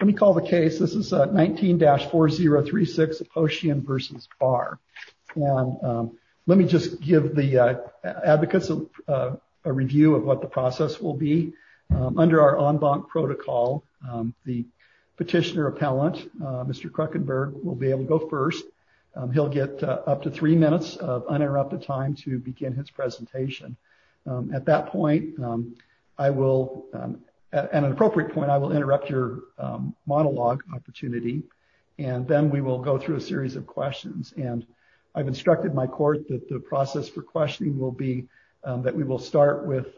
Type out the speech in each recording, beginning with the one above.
Let me call the case. This is 19-4036, Oshian v. Barr. Let me just give the advocates a review of what the process will be. Under our en banc protocol, the petitioner appellant, Mr. Kruckenberg, will be able to go first. He'll get up to three minutes of uninterrupted time to begin his presentation. At that point, I will, at an appropriate point, I will interrupt your monologue opportunity, and then we will go through a series of questions. And I've instructed my court that the process for questioning will be that we will start with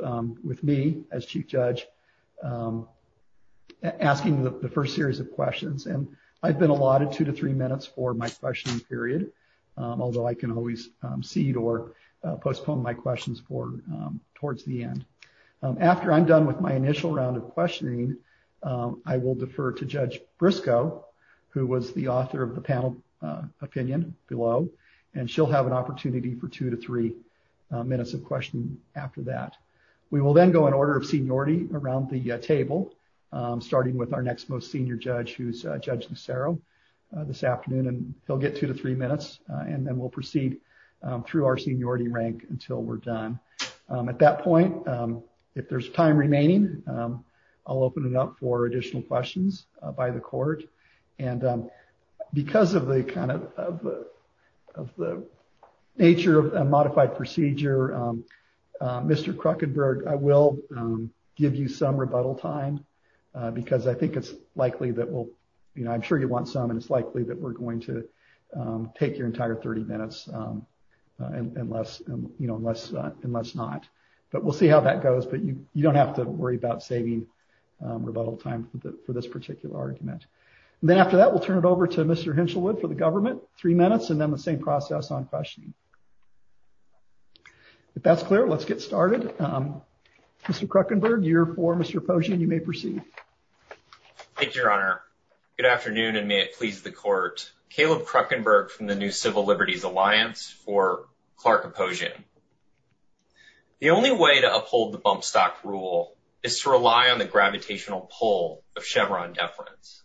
me as chief judge asking the first series of questions. And I've been allotted two to three minutes for my questioning period, although I can always cede or postpone my questions for towards the end. After I'm done with my initial round of questioning, I will defer to Judge Briscoe, who was the author of the panel opinion below, and she'll have an opportunity for two to three minutes of questioning after that. We will then go in order of seniority around the table, starting with our next most senior judge, who's Judge Lucero, this afternoon, and he'll get two to three minutes, and then we'll proceed through our seniority rank until we're done. At that point, if there's time remaining, I'll open it up for additional questions by the court. And because of the kind of nature of a modified procedure, Mr. Kruckenberg, I will give you some rebuttal time, because I think it's likely that we'll, you know, I'm sure you want some, and it's likely that we're going to take your entire 30 minutes unless, you know, unless not. But we'll see how that goes, but you don't have to worry about saving rebuttal time for this particular argument. And then after that, we'll turn it over to Mr. Hinshelwood for the government, three minutes, and then the same process on questioning. If that's clear, let's get started. Mr. Kruckenberg, you're for Mr. Posian, you may proceed. Thank you, Your Honor. Good afternoon, and may it please the court. Caleb Kruckenberg from the New Civil Liberties Alliance, or Clark Posian. The only way to uphold the bump stock rule is to rely on the gravitational pull of Chevron deference.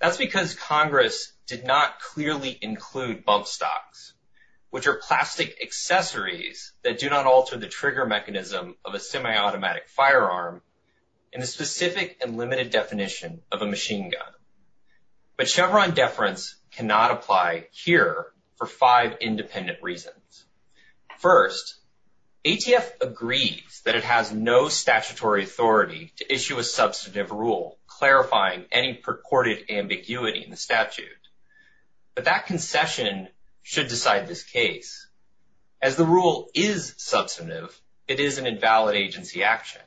That's because Congress did not clearly include bump stocks, which are plastic accessories that do not alter the trigger mechanism of a semi-automatic firearm in a specific and limited definition of a machine gun. But Chevron deference cannot apply here for five independent reasons. First, ATF agrees that it has no statutory authority to issue a substantive rule clarifying any purported ambiguity in the statute. But that concession should decide this case. As the rule is substantive, it is an invalid agency action.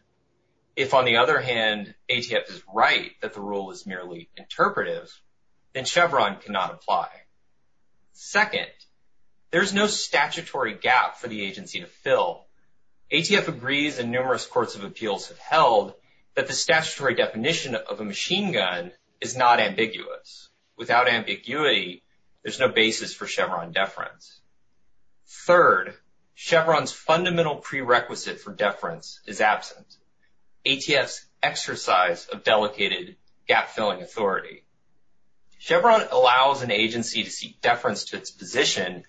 If, on the other hand, ATF is right that the rule is merely interpretive, then Chevron cannot apply. Second, there's no statutory gap for the agency to fill. ATF agrees, and numerous courts of appeals have held, that the statutory definition of a machine gun is not ambiguous. Without ambiguity, there's no basis for Chevron deference. Third, Chevron's fundamental prerequisite for deference is absence. ATF's exercise of delicated gap-filling authority. Chevron allows an agency to seek deference to its position,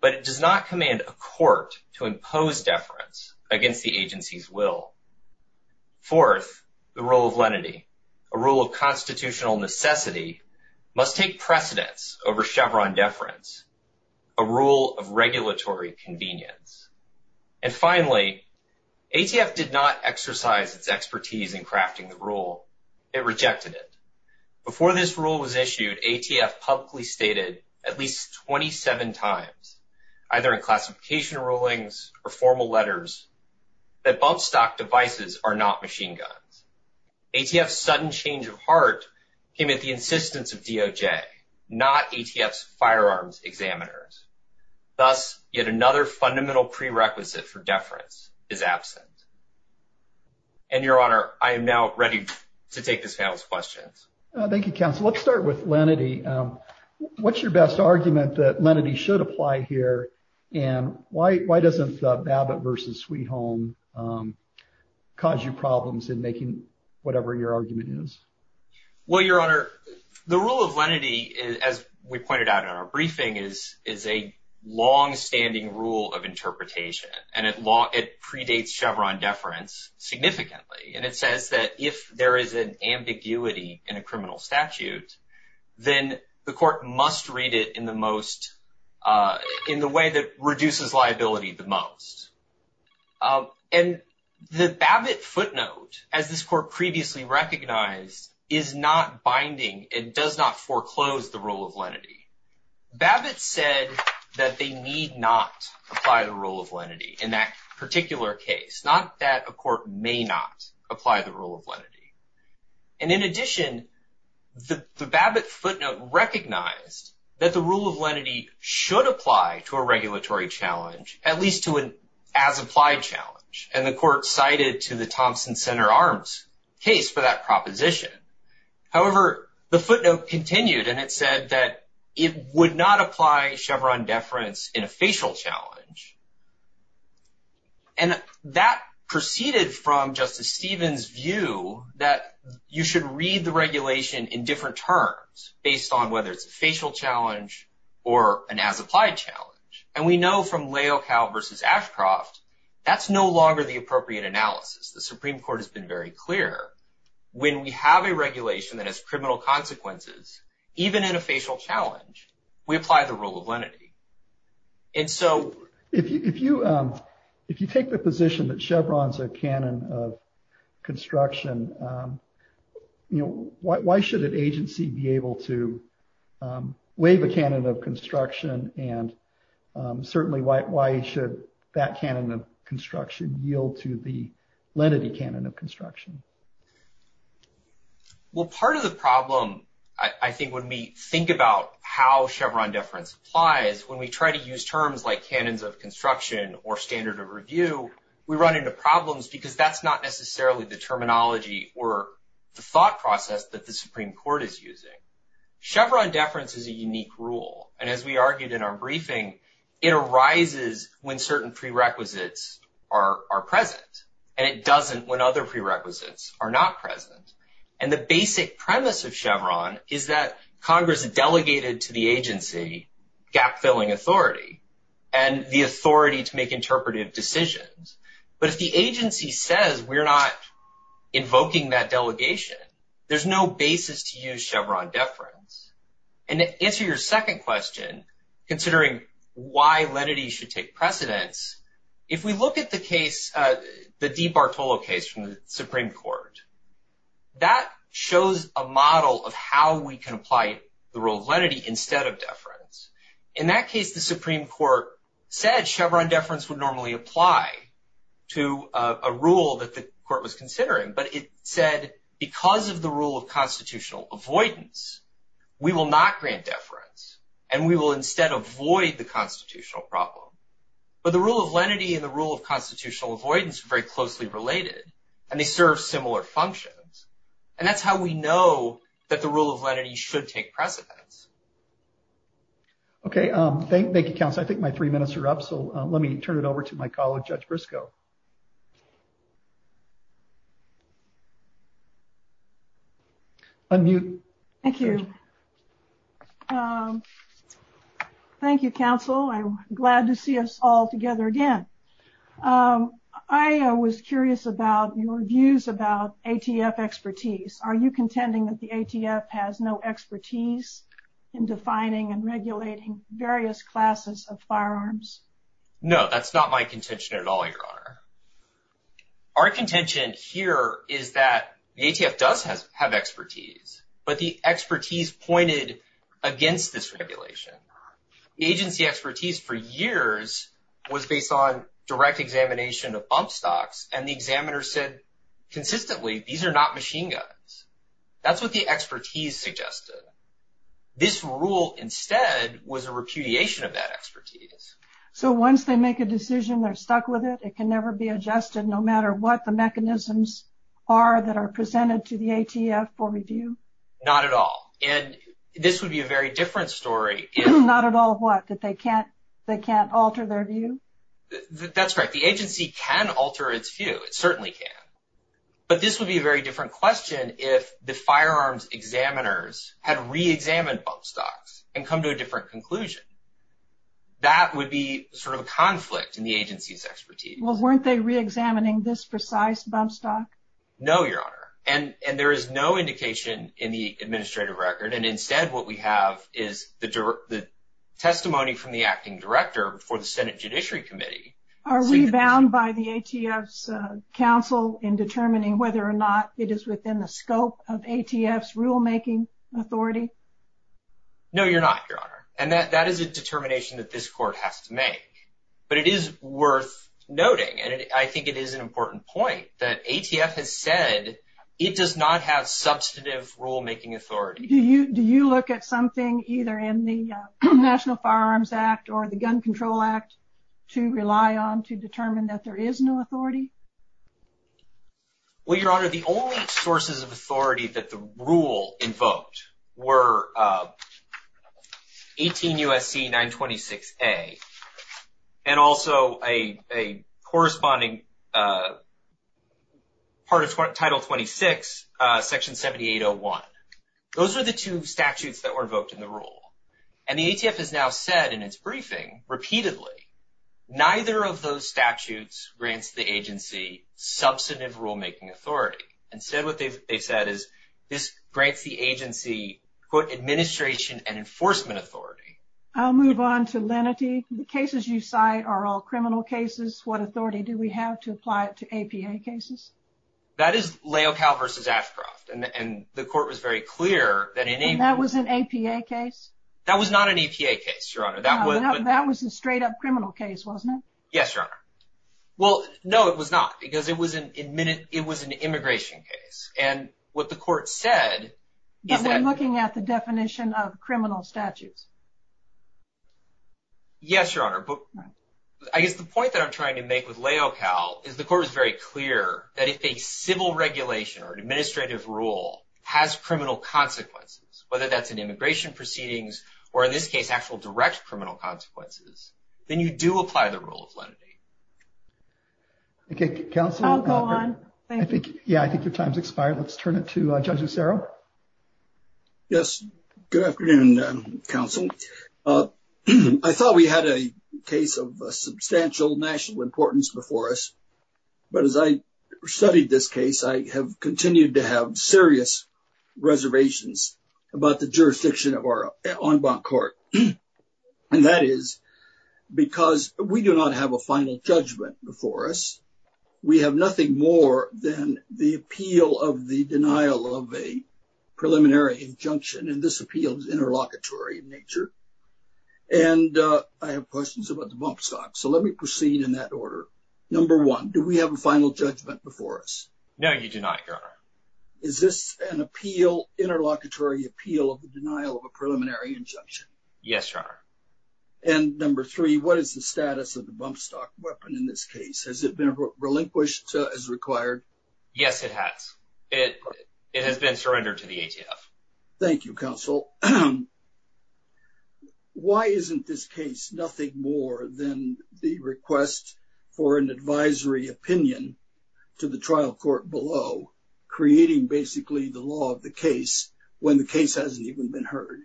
but it does not command a court to impose deference against the agency's will. Fourth, the rule of lenity, a rule of constitutional necessity, must take precedence over Chevron deference, a rule of regulatory convenience. And finally, ATF did not exercise its expertise in crafting the rule. It rejected it. Before this rule was issued, ATF publicly stated at least 27 times, either in classification rulings or formal letters, that both stock devices are not machine guns. ATF's sudden change of heart came at the insistence of DOJ, not ATF's firearms examiners. Thus, yet another fundamental prerequisite for deference is absence. And, Your Honor, I am now ready to take this down with questions. Thank you, counsel. Let's start with lenity. What's your best argument that lenity should apply here, and why doesn't Babbitt v. Sweet Home cause you problems in making whatever your argument is? Well, Your Honor, the rule of lenity, as we pointed out in our briefing, is a longstanding rule of interpretation, and it predates Chevron deference significantly. And it says that if there is an ambiguity in a criminal statute, then the court must read it in the most, in the way that reduces liability the most. And the Babbitt footnote, as this court previously recognized, is not binding. It does not foreclose the rule of lenity. Babbitt said that they need not apply the rule of lenity in that particular case, not that a court may not apply the rule of lenity. And in addition, the Babbitt footnote recognized that the rule of lenity should apply to a regulatory challenge, at least to an as-applied challenge, and the court cited to the Thompson Center Arms case for that proposition. However, the footnote continued, and it said that it would not apply Chevron deference in a facial challenge. And that proceeded from Justice Stevens' view that you should read the regulation in different terms, based on whether it's a facial challenge or an as-applied challenge. And we know from Layocow v. Ashcroft, that's no longer the appropriate analysis. The Supreme Court has been very clear. When we have a regulation that has criminal consequences, even in a facial challenge, we apply the rule of lenity. And so, if you take the position that Chevron's a canon of construction, you know, why should an agency be able to waive a canon of construction, and certainly why should that canon of construction yield to the lenity canon of construction? Well, part of the problem, I think, when we think about how Chevron deference applies, when we try to use terms like canons of construction or standard of review, we run into problems because that's not necessarily the terminology or the thought process that the Supreme Court is using. Chevron deference is a unique rule, and as we argued in our briefing, it arises when certain prerequisites are present, and it doesn't when other prerequisites are not present. And the basic premise of Chevron is that Congress has delegated to the agency gap-filling authority and the authority to make interpretive decisions. But if the agency says we're not invoking that delegation, there's no basis to use Chevron deference. And to answer your second question, considering why lenity should take precedence, if we look at the case, the DeBartolo case from the Supreme Court, that shows a model of how we can apply the rule of lenity instead of deference. In that case, the Supreme Court said Chevron deference would normally apply to a rule that the court was considering, but it said because of the rule of constitutional avoidance, we will not grant deference, and we will instead avoid the constitutional problem. But the rule of lenity and the rule of constitutional avoidance are very closely related, and they serve similar functions. And that's how we know that the rule of lenity should take precedence. Okay, thank you, counsel. I think my three minutes are up, so let me turn it over to my colleague, Judge Briscoe. Unmute. Thank you. Thank you, counsel. I'm glad to see us all together again. I was curious about your views about ATF expertise. Are you contending that the ATF has no expertise in defining and regulating various classes of firearms? No, that's not my contention at all, Your Honor. Our contention here is that the ATF does have expertise, but the expertise pointed against this regulation. The agency expertise for years was based on direct examination of bump stocks, and the examiner said consistently, these are not machine guns. That's what the expertise suggested. This rule, instead, was a repudiation of that expertise. So once they make a decision, they're stuck with it? It can never be adjusted, no matter what the mechanisms are that are presented to the ATF for review? Not at all. And this would be a very different story if... Not at all what? That they can't alter their view? That's right. The agency can alter its view. It certainly can. But this would be a very different question if the firearms examiners had reexamined bump stocks and come to a different conclusion. That would be sort of a conflict in the agency's expertise. Well, weren't they reexamining this precise bump stock? No, Your Honor. And there is no indication in the administrative record. And instead, what we have is the testimony from the acting director for the Senate Judiciary Committee. Are we bound by the ATF's counsel in determining whether or not it is within the scope of ATF's rulemaking authority? No, You're not, Your Honor. And that is a determination that this court has to make. But it is worth noting, and I think it is an important point, that ATF has said it does not have substantive rulemaking authority. Do you look at something either in the National Firearms Act or the Gun Control Act to rely on to determine that there is no authority? Well, Your Honor, the only sources of authority that the rule invoked were 18 U.S.C. 926a and also a corresponding part of Title 26, Section 7801. Those are the two statutes that were invoked in the rule. And the ATF has now said in its briefing, repeatedly, neither of those statutes grants the agency substantive rulemaking authority. Instead, what they've said is this grants the agency, quote, administration and enforcement authority. I'll move on to lenity. The cases you cite are all criminal cases. What authority do we have to apply it to APA cases? That is Leocal v. Ashcroft. And the court was very clear that in any... And that was an APA case? That was not an APA case, Your Honor. That was... That was a straight-up criminal case, wasn't it? Yes, Your Honor. Well, no, it was not, because it was an immigration case. And what the court said... But they're looking at the definition of criminal statute. Yes, Your Honor. I guess the point that I'm trying to make with Leocal is the court was very clear that if a civil regulation or an administrative rule has criminal consequences, whether that's an immigration proceedings or, in this case, actual direct criminal consequences, then you do apply the rule of lenity. Okay, counsel. I'll go on. Yeah, I think your time's expired. Let's turn it to Judge Acero. Yes. Good afternoon, counsel. I thought we had a case of substantial national importance before us. But as I studied this case, I have continued to have serious reservations about the jurisdiction of our en banc court. And that is because we do not have a final judgment before us. We have nothing more than the appeal of the denial of a preliminary injunction. And this appeal is interlocutory in nature. And I have questions about the bump stock. So let me proceed in that order. Number one, do we have a final judgment before us? No, you do not, Your Honor. Is this an appeal, interlocutory appeal of the denial of a preliminary injunction? Yes, Your Honor. And number three, what is the status of the bump stock weapon in this case? Has it been relinquished as required? Yes, it has. It has been surrendered to the ATF. Thank you, counsel. Why isn't this case nothing more than the request for an advisory opinion to the trial court below, creating basically the law of the case when the case hasn't even been heard?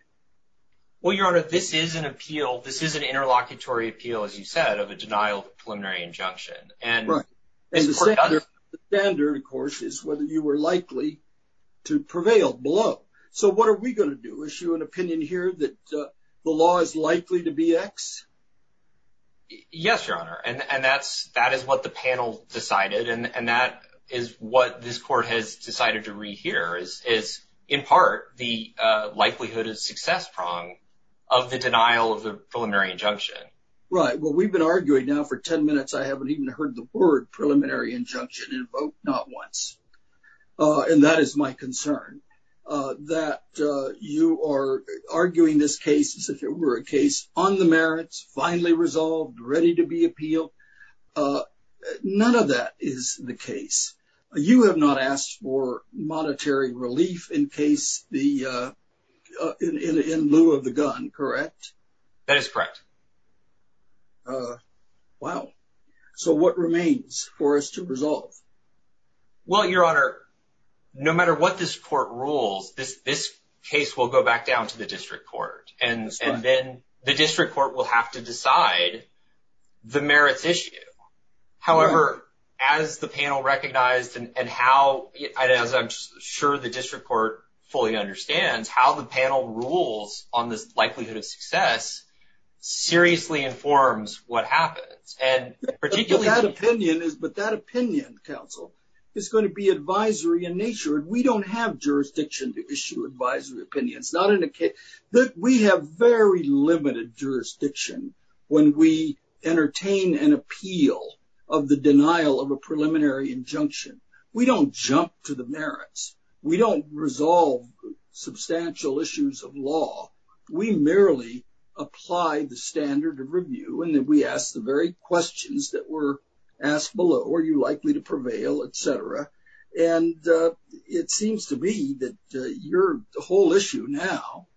Well, Your Honor, this is an appeal, this is an interlocutory appeal, as you said, of a denial of a preliminary injunction. And the standard, of course, is whether you were likely to prevail below. So what are we going to do, issue an opinion here that the law is likely to be X? Yes, Your Honor. And that is what the panel decided, and that is what this court has decided to read here, is, in part, the likelihood of success prong of the denial of the preliminary injunction. Right. Well, we've been arguing now for 10 minutes. I haven't even heard the word preliminary injunction invoked, not once. And that is my concern. That you are arguing this case as if it were a case on the merits, finally resolved, ready to be appealed. None of that is the case. You have not asked for monetary relief in case the ‑‑ in lieu of the gun, correct? That is correct. Wow. So what remains for us to resolve? Well, Your Honor, no matter what this court rules, this case will go back down to the district court. And then the district court will have to decide the merits issue. However, as the panel recognized and how ‑‑ as I'm sure the district court fully understands, how the panel rules on the likelihood of success seriously informs what happens. But that opinion, counsel, is going to be advisory in nature. We don't have jurisdiction to issue advisory opinions. We have very limited jurisdiction when we entertain an appeal of the denial of a preliminary injunction. We don't jump to the merits. We don't resolve substantial issues of law. We merely apply the standard of review and we ask the very questions that were asked below. Are you likely to prevail, et cetera? And it seems to be that your whole issue now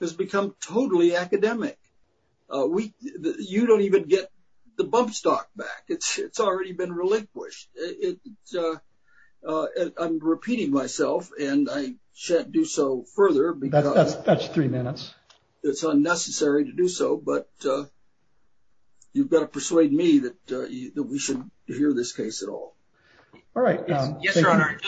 has become totally academic. You don't even get the bump stock back. It's already been relinquished. I'm repeating myself and I can't do so further. That's three minutes. It's unnecessary to do so, but you've got to persuade me that we should hear this case at all. All right. Yes, Your Honor.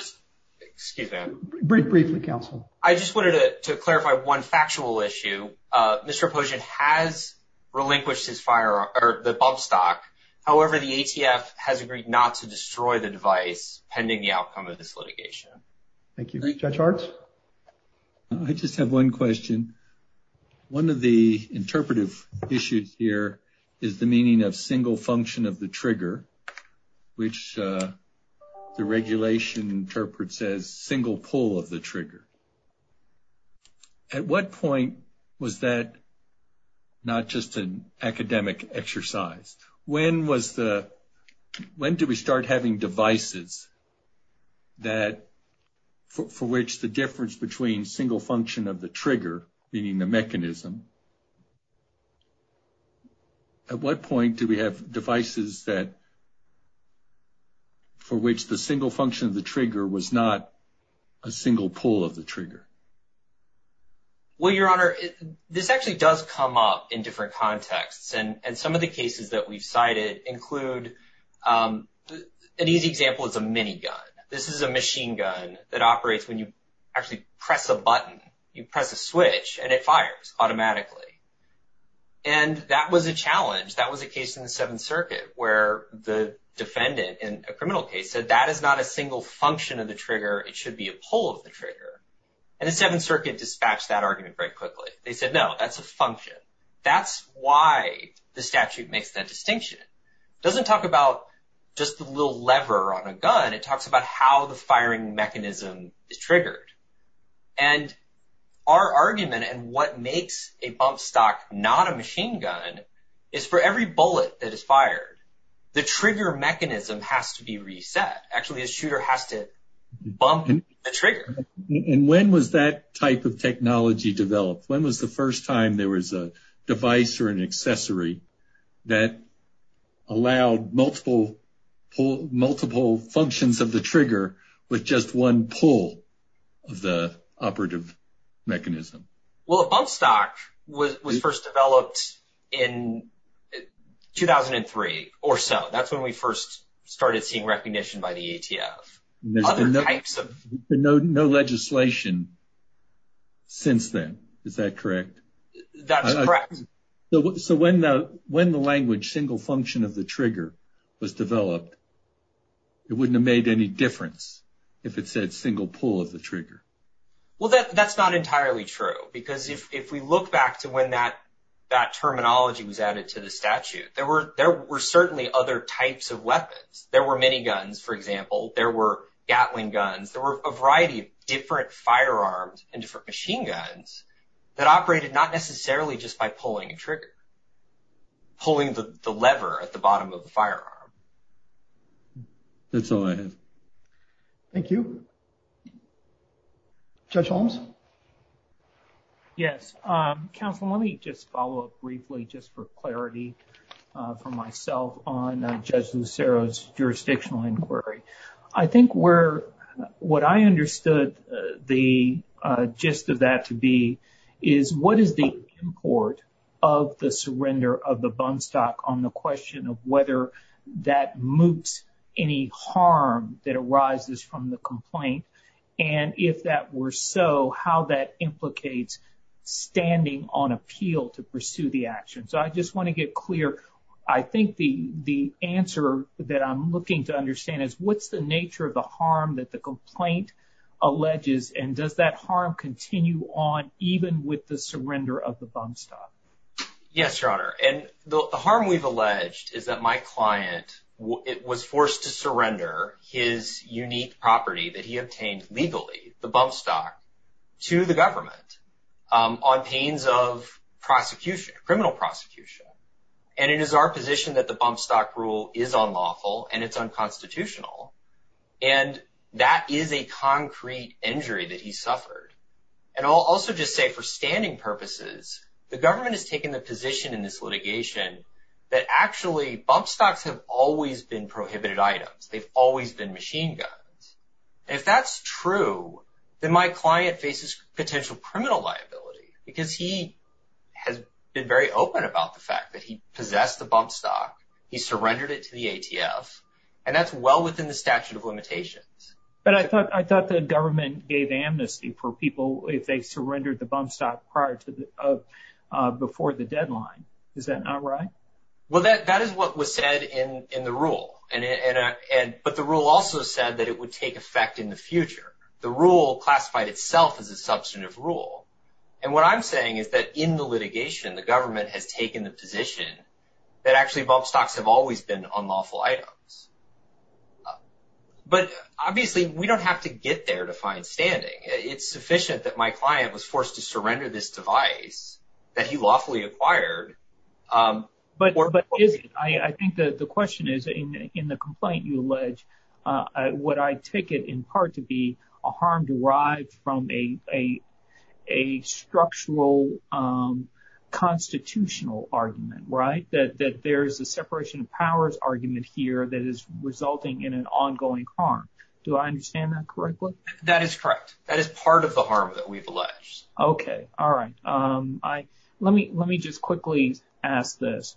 Excuse me. Briefly, counsel. I just wanted to clarify one factual issue. Mr. Poshen has relinquished the bump stock. However, the ATF has agreed not to destroy the device pending the outcome of this litigation. Thank you. Judge Hartz? I just have one question. One of the interpretive issues here is the meaning of single function of the trigger, which the regulation interprets as single pull of the trigger. At what point was that not just an academic exercise? When do we start having devices for which the difference between single function of the trigger, meaning the mechanism, at what point do we have devices for which the single function of the trigger was not a single pull of the trigger? Well, Your Honor, this actually does come up in different contexts. And some of the cases that we've cited include an easy example is a minigun. This is a machine gun that operates when you actually press a button. You press a switch and it fires automatically. And that was a challenge. That was a case in the Seventh Circuit where the defendant in a criminal case said, that is not a single function of the trigger. It should be a pull of the trigger. And the Seventh Circuit dispatched that argument very quickly. They said, no, that's a function. That's why the statute makes that distinction. It doesn't talk about just a little lever on a gun. It talks about how the firing mechanism is triggered. And our argument and what makes a bump stock not a machine gun is for every bullet that is fired, the trigger mechanism has to be reset. Actually, a shooter has to bump a trigger. And when was that type of technology developed? When was the first time there was a device or an accessory that allowed multiple functions of the trigger with just one pull of the operative mechanism? Well, a bump stock was first developed in 2003 or so. That's when we first started seeing recognition by the ATF. There's been no legislation since then. Is that correct? That's correct. So when the language single function of the trigger was developed, it wouldn't have made any difference if it said single pull of the trigger. Well, that's not entirely true. Because if we look back to when that terminology was added to the statute, there were certainly other types of weapons. There were many guns, for example. There were gatling guns. There were a variety of different firearms and different machine guns that operated not necessarily just by pulling a trigger, pulling the lever at the bottom of the firearm. That's all I have. Thank you. Judge Holmes? Yes. Counsel, let me just follow up briefly just for clarity for myself on Judge Lucero's jurisdictional inquiry. I think what I understood the gist of that to be is what is the import of the surrender of the bump stock on the question of whether that appeal to pursue the action. So I just want to get clear. I think the answer that I'm looking to understand is what's the nature of the harm that the complaint alleges, and does that harm continue on even with the surrender of the bump stock? Yes, Your Honor. And the harm we've alleged is that my client was forced to surrender his unique property that he obtained legally, the bump stock, to the government on pains of prosecution, criminal prosecution. And it is our position that the bump stock rule is unlawful and it's unconstitutional, and that is a concrete injury that he suffered. And I'll also just say for scanning purposes, the government has taken the position in this litigation that actually bump stocks have always been prohibited items. They've always been machine guns. If that's true, then my client faces potential criminal liability because he has been very open about the fact that he possessed the bump stock, he surrendered it to the ATF, and that's well within the statute of limitations. But I thought the government gave amnesty for people if they surrendered the bump stock prior to before the deadline. Is that not right? Well, that is what was said in the rule. But the rule also said that it would take effect in the future. The rule classified itself as a substantive rule. And what I'm saying is that in the litigation, the government has taken the position that actually bump stocks have always been unlawful items. But obviously, we don't have to get there to find standing. It's sufficient that my client was forced to surrender this device that he lawfully acquired. But I think that the question is, in the complaint you allege, would I take it in part to be a harm derived from a structural constitutional argument, right? That there is a separation of powers argument here that is resulting in an ongoing harm. Do I understand that correctly? That is correct. That is part of the harm that we've alleged. Okay. All right. Let me just quickly ask this.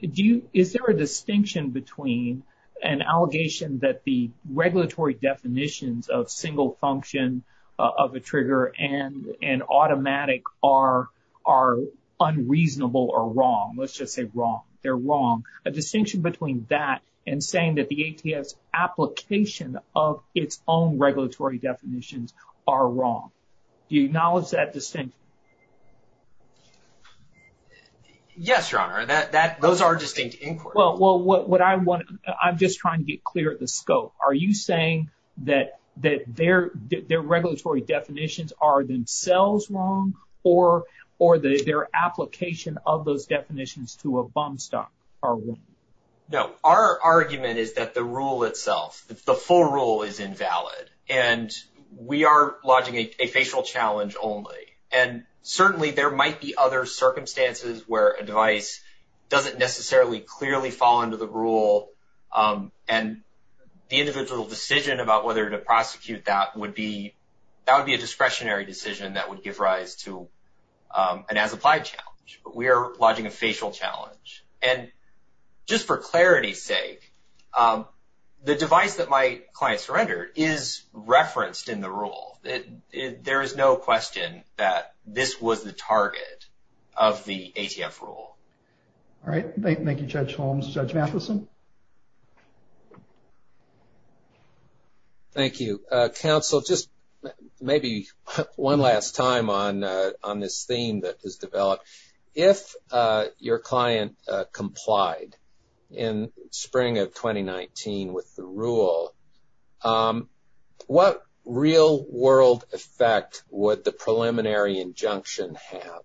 Is there a distinction between an allegation that the regulatory definitions of single function of a trigger and automatic are unreasonable or wrong? Let's just say wrong. They're wrong. A distinction between that and saying that the ATF's application of its own regulatory definitions are wrong. Do you acknowledge that distinction? Yes, Your Honor. Those are distinct inquiries. Well, I'm just trying to get clear of the scope. Are you saying that their regulatory definitions are themselves wrong or their application of those definitions to a bump stock are wrong? No. Our argument is that the rule itself, the full rule is invalid. And we are lodging a facial challenge only. And certainly there might be other circumstances where a device doesn't necessarily clearly fall into the rule and the individual's decision about whether to prosecute that would be a discretionary decision that would give rise to an as-applied challenge. But we are lodging a facial challenge. And just for clarity's sake, the device that my client surrendered is referenced in the rule. There is no question that this was the target of the ATF rule. All right. Thank you, Judge Holmes. Judge Matheson? Thank you. Counsel, just maybe one last time on this theme that was developed. If your client complied in spring of 2019 with the rule, what real-world effect would the preliminary injunction have?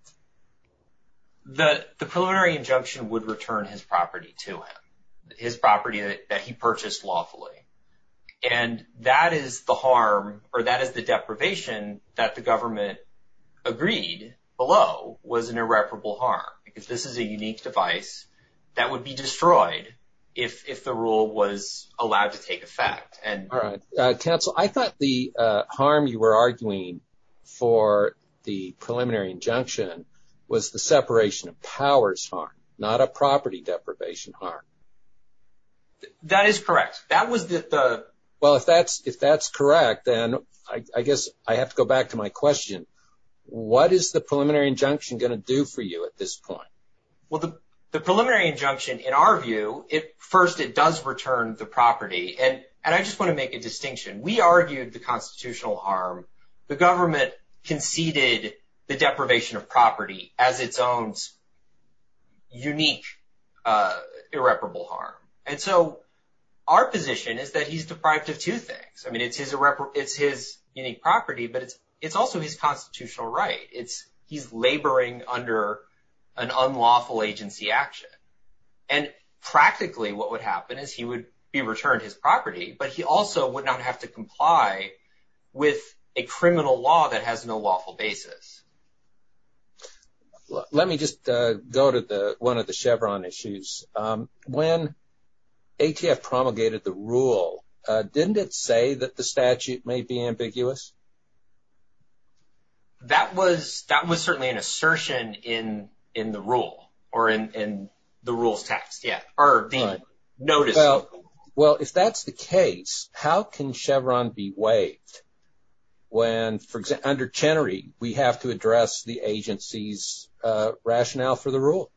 The preliminary injunction would return his property to him, his property that he purchased lawfully. And that is the harm or that is the deprivation that the government agreed below was an irreparable harm. Because this is a unique device that would be destroyed if the rule was allowed to take effect. Counsel, I thought the harm you were arguing for the preliminary injunction was the separation of powers harm, not a property deprivation harm. That is correct. Well, if that's correct, then I guess I have to go back to my question. What is the preliminary injunction going to do for you at this point? Well, the preliminary injunction, in our view, first, it does return the property. And I just want to make a distinction. We argued the constitutional harm. The government conceded the deprivation of property as its own unique irreparable harm. And so our position is that he's deprived of two things. I mean, it's his unique property, but it's also his constitutional right. He's laboring under an unlawful agency action. And practically what would happen is he would be returned his property, but he also would not have to comply with a criminal law that has no lawful basis. Let me just go to one of the Chevron issues. When ATF promulgated the rule, didn't it say that the statute may be ambiguous? That was certainly an assertion in the rule or in the rules test, yeah, or being noted. Well, if that's the case, how can Chevron be waived when, for example, under Chenery, we have to address the agency's rationale for the rule?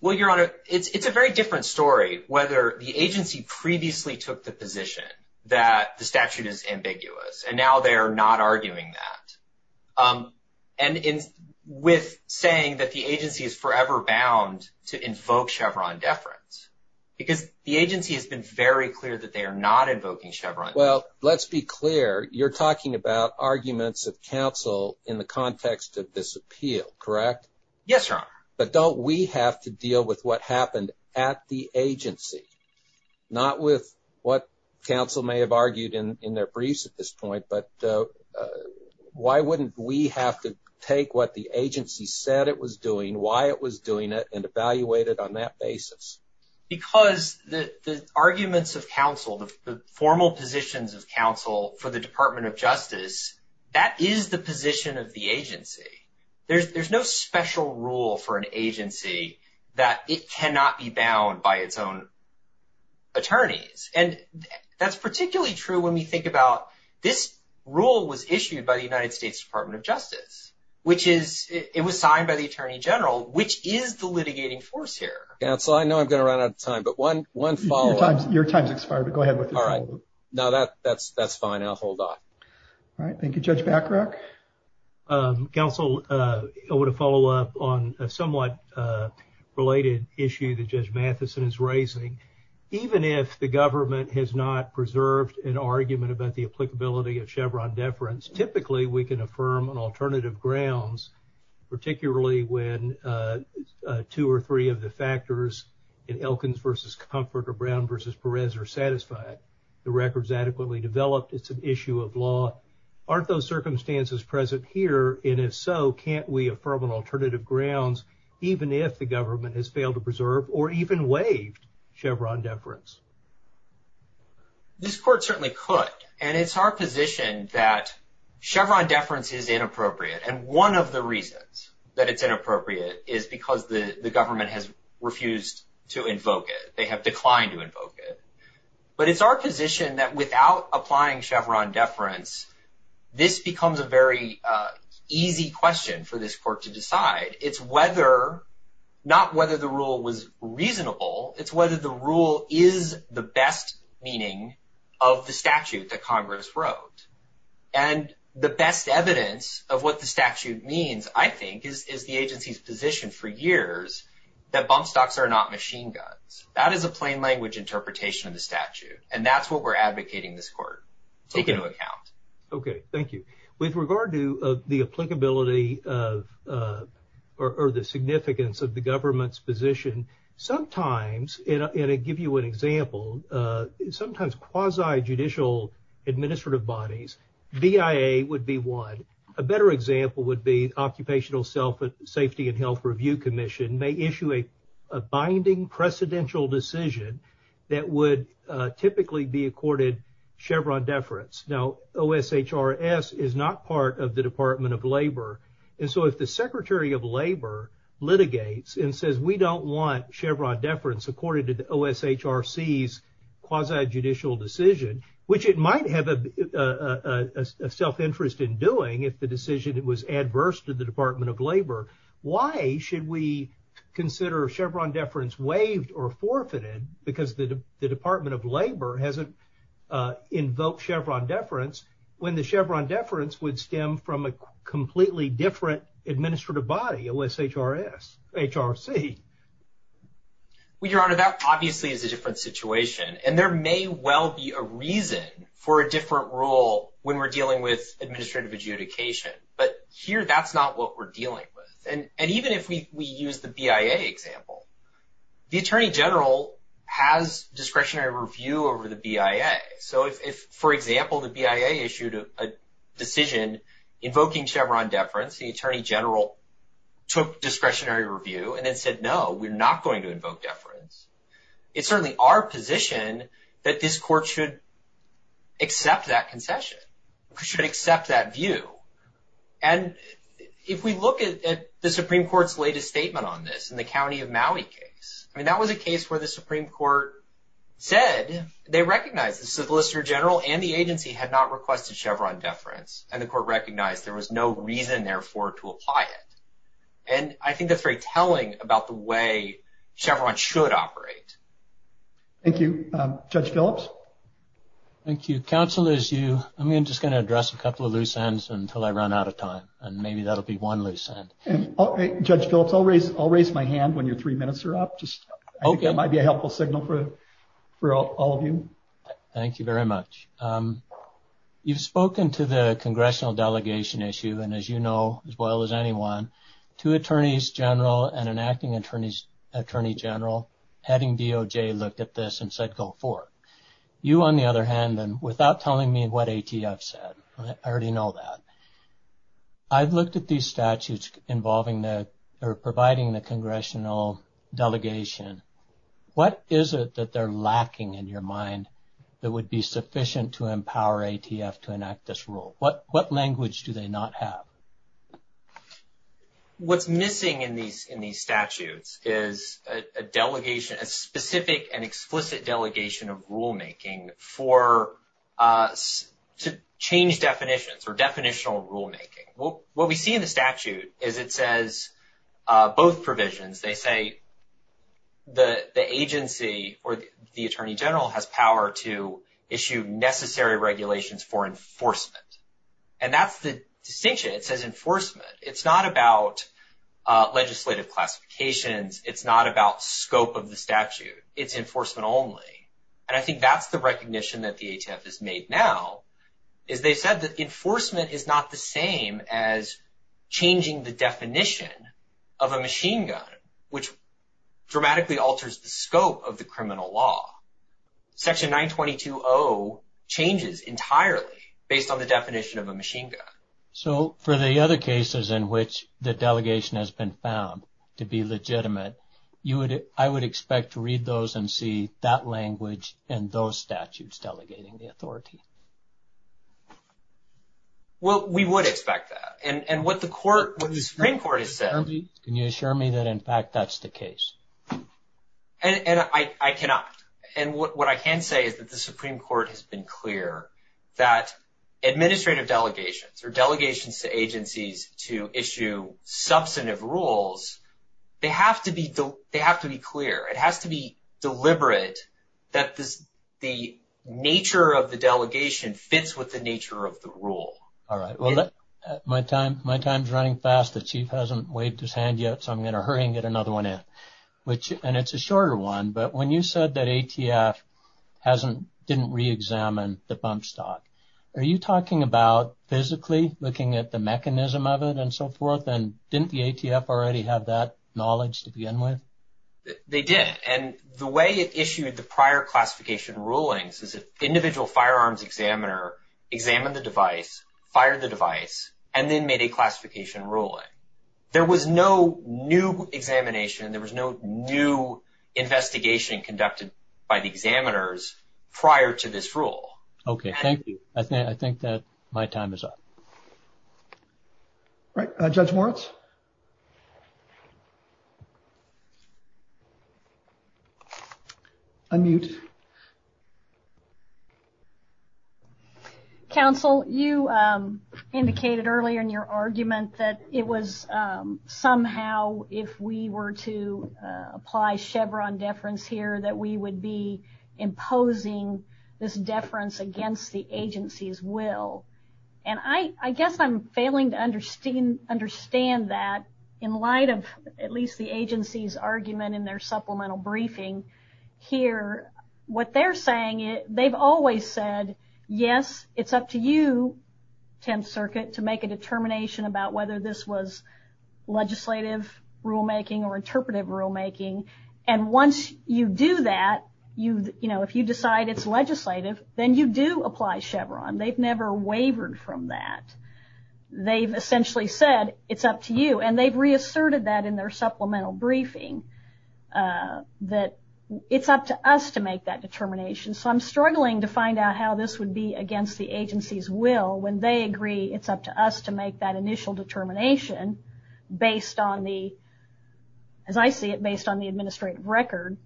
Well, Your Honor, it's a very different story whether the agency previously took the position that the statute is ambiguous. And now they are not arguing that. And with saying that the agency is forever bound to invoke Chevron deference because the agency has been very clear that they are not invoking Chevron. Well, let's be clear. You're talking about arguments of counsel in the context of this appeal, correct? Yes, Your Honor. But don't we have to deal with what happened at the agency? Not with what counsel may have argued in their briefs at this point, but why wouldn't we have to take what the agency said it was doing, why it was doing it, and evaluate it on that basis? Because the arguments of counsel, the formal positions of counsel for the Department of Justice, that is the position of the agency. There's no special rule for an agency that it cannot be bound by its own attorneys. And that's particularly true when we think about this rule was issued by the United States Department of Justice, which is, it was signed by the Attorney General, which is the litigating force here. Counsel, I know I'm going to run out of time, but one follow-up. Your time's expired, but go ahead. All right. No, that's fine. I'll hold off. All right. Thank you, Judge Bacharach. Counsel, I want to follow up on a somewhat related issue that Judge Matheson is raising. Even if the government has not preserved an argument about the applicability of Chevron deference, typically we can affirm on alternative grounds, particularly when two or three of the factors in Elkins v. Comfort or Brown v. Perez are satisfied. The record's adequately developed. It's an issue of law. Aren't those circumstances present here? And if so, can't we affirm on alternative grounds even if the government has failed to preserve or even waived Chevron deference? This court certainly could. And it's our position that Chevron deference is inappropriate. And one of the reasons that it's inappropriate is because the government has refused to invoke it. They have declined to invoke it. But it's our position that without applying Chevron deference, this becomes a very easy question for this court to decide. It's whether, not whether the rule was reasonable, it's whether the rule is the best meaning of the statute that Congress wrote. And the best evidence of what the statute means, I think, is the agency's position for years that bump stocks are not machine guns. That is a plain language interpretation of the statute. And that's what we're advocating this court. Take into account. Okay. Thank you. With regard to the applicability of or the significance of the government's position, sometimes, and I'll give you an example, sometimes quasi-judicial administrative bodies, BIA would be one. A better example would be Occupational Safety and Health Review Commission may issue a binding precedential decision that would typically be accorded Chevron deference. Now, OSHRS is not part of the Department of Labor. And so if the Secretary of Labor litigates and says we don't want Chevron deference according to the OSHRC's quasi-judicial decision, which it might have a self-interest in doing if the decision was adverse to the Department of Labor, why should we consider Chevron deference waived or forfeited because the Department of Labor hasn't invoked Chevron deference when the Chevron deference would stem from a completely different administrative body, OSHRS, HRC? With regard to that, obviously, it's a different situation. And there may well be a reason for a different rule when we're dealing with administrative adjudication. But here, that's not what we're dealing with. And even if we use the BIA example, the Attorney General has discretionary review over the BIA. So if, for example, the BIA issued a decision invoking Chevron deference, the Attorney General took discretionary review and then said, no, we're not going to invoke deference, it's certainly our position that this court should accept that concession, should accept that view. And if we look at the Supreme Court's latest statement on this in the County of Maui case, I mean, that was a case where the Supreme Court said they recognized the Solicitor General and the agency had not requested Chevron deference. And the court recognized there was no reason, therefore, to apply it. And I think that's very telling about the way Chevron should operate. Thank you. Judge Phillips? Thank you. Counsel is you. I'm just going to address a couple of loose ends until I run out of time. And maybe that'll be one loose end. Judge Phillips, I'll raise my hand when your three minutes are up. I think that might be a helpful signal for all of you. Thank you very much. You've spoken to the congressional delegation issue, and as you know as well as anyone, to Attorneys General and an acting Attorney General having DOJ look at this and said, go forth. You, on the other hand, and without telling me what ATF said, I already know that, I've looked at these statutes involving the or providing the congressional delegation. What is it that they're lacking in your mind that would be sufficient to empower ATF to enact this rule? What language do they not have? What's missing in these statutes is a delegation, a specific and explicit delegation of rulemaking for us to change definitions or definitional rulemaking. What we see in the statute is it says both provisions. They say the agency or the Attorney General has power to issue necessary regulations for enforcement. And that's the distinction. It says enforcement. It's not about legislative classifications. It's not about scope of the statute. It's enforcement only. And I think that's the recognition that the ATF has made now is they said that enforcement is not the same as changing the definition of a machine gun, which dramatically alters the scope of the criminal law. Section 922.0 changes entirely based on the definition of a machine gun. So for the other cases in which the delegation has been found to be legitimate, I would expect to read those and see that language and those statutes delegating the authority. Well, we would expect that. And what the Supreme Court has said. Can you assure me that, in fact, that's the case? I cannot. And what I can say is that the Supreme Court has been clear that administrative delegations or delegations to agencies to issue substantive rules, they have to be clear. It has to be deliberate that the nature of the delegation fits with the nature of the rule. All right. Well, my time is running fast. The Chief hasn't waved his hand yet, so I'm going to hurry and get another one in. And it's a shorter one, but when you said that ATF didn't reexamine the bump stop, are you talking about physically looking at the mechanism of it and so forth? And didn't the ATF already have that knowledge to begin with? They did. And the way it issued the prior classification rulings is an individual firearms examiner examined the device, fired the device, and then made a classification ruling. There was no new examination. There was no new investigation conducted by the examiners prior to this rule. Okay. Thank you. I think that my time is up. All right. Judge Moritz? Unmute. Counsel, you indicated earlier in your argument that it was somehow, if we were to apply Chevron deference here, that we would be imposing this deference against the agency's will. And I guess I'm failing to understand that in light of at least the agency's argument in their supplemental briefing here. What they're saying, they've always said, yes, it's up to you, 10th Circuit, to make a determination about whether this was legislative rulemaking or interpretive rulemaking. And once you do that, you know, if you decide it's legislative, then you do apply Chevron. They've never wavered from that. They've essentially said, it's up to you. And they've reasserted that in their supplemental briefing, that it's up to us to make that determination. So I'm struggling to find out how this would be against the agency's will when they agree it's up to us to make that initial determination based on the, as I see it, based on the administrative record.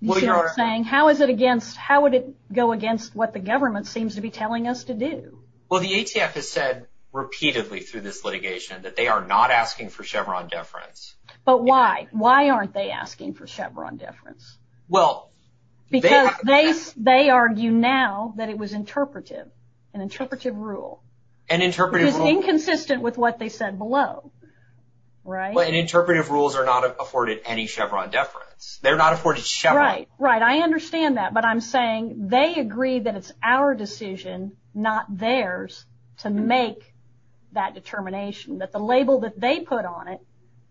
You see what I'm saying? How is it against, how would it go against what the government seems to be telling us to do? Well, the ACF has said repeatedly through this litigation that they are not asking for Chevron deference. But why? Why aren't they asking for Chevron deference? Because they argue now that it was interpretive, an interpretive rule. An interpretive rule. It was inconsistent with what they said below, right? But interpretive rules are not afforded any Chevron deference. They're not afforded Chevron. Right, right. I understand that. But I'm saying they agree that it's our decision, not theirs, to make that determination, that the label that they put on it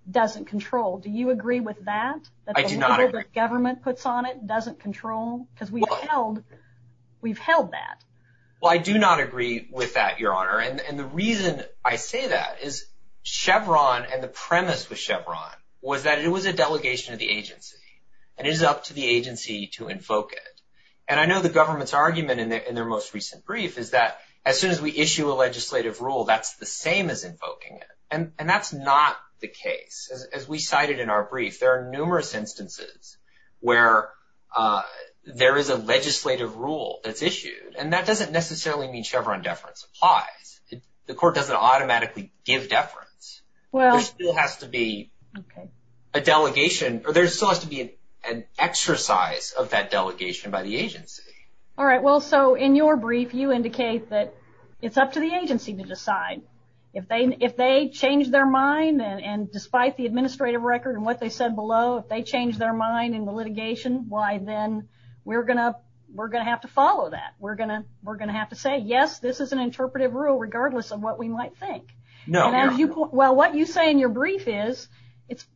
doesn't control. Do you agree with that? I do not agree. That the label that government puts on it doesn't control? Because we've held that. Well, I do not agree with that, Your Honor. And the reason I say that is Chevron and the premise with Chevron was that it was a delegation of the agency. And it is up to the agency to invoke it. And I know the government's argument in their most recent brief is that as soon as we issue a legislative rule, that's the same as invoking it. And that's not the case. As we cited in our brief, there are numerous instances where there is a legislative rule that's issued. And that doesn't necessarily mean Chevron deference applies. The court doesn't automatically give deference. There still has to be a delegation, or there still has to be an exercise of that delegation by the agency. All right, well, so in your brief, you indicate that it's up to the agency to decide. If they change their mind, and despite the administrative record and what they said below, if they change their mind in the litigation, why, then, we're going to have to follow that. We're going to have to say, yes, this is an interpretive rule regardless of what we might think. No. Well, what you say in your brief is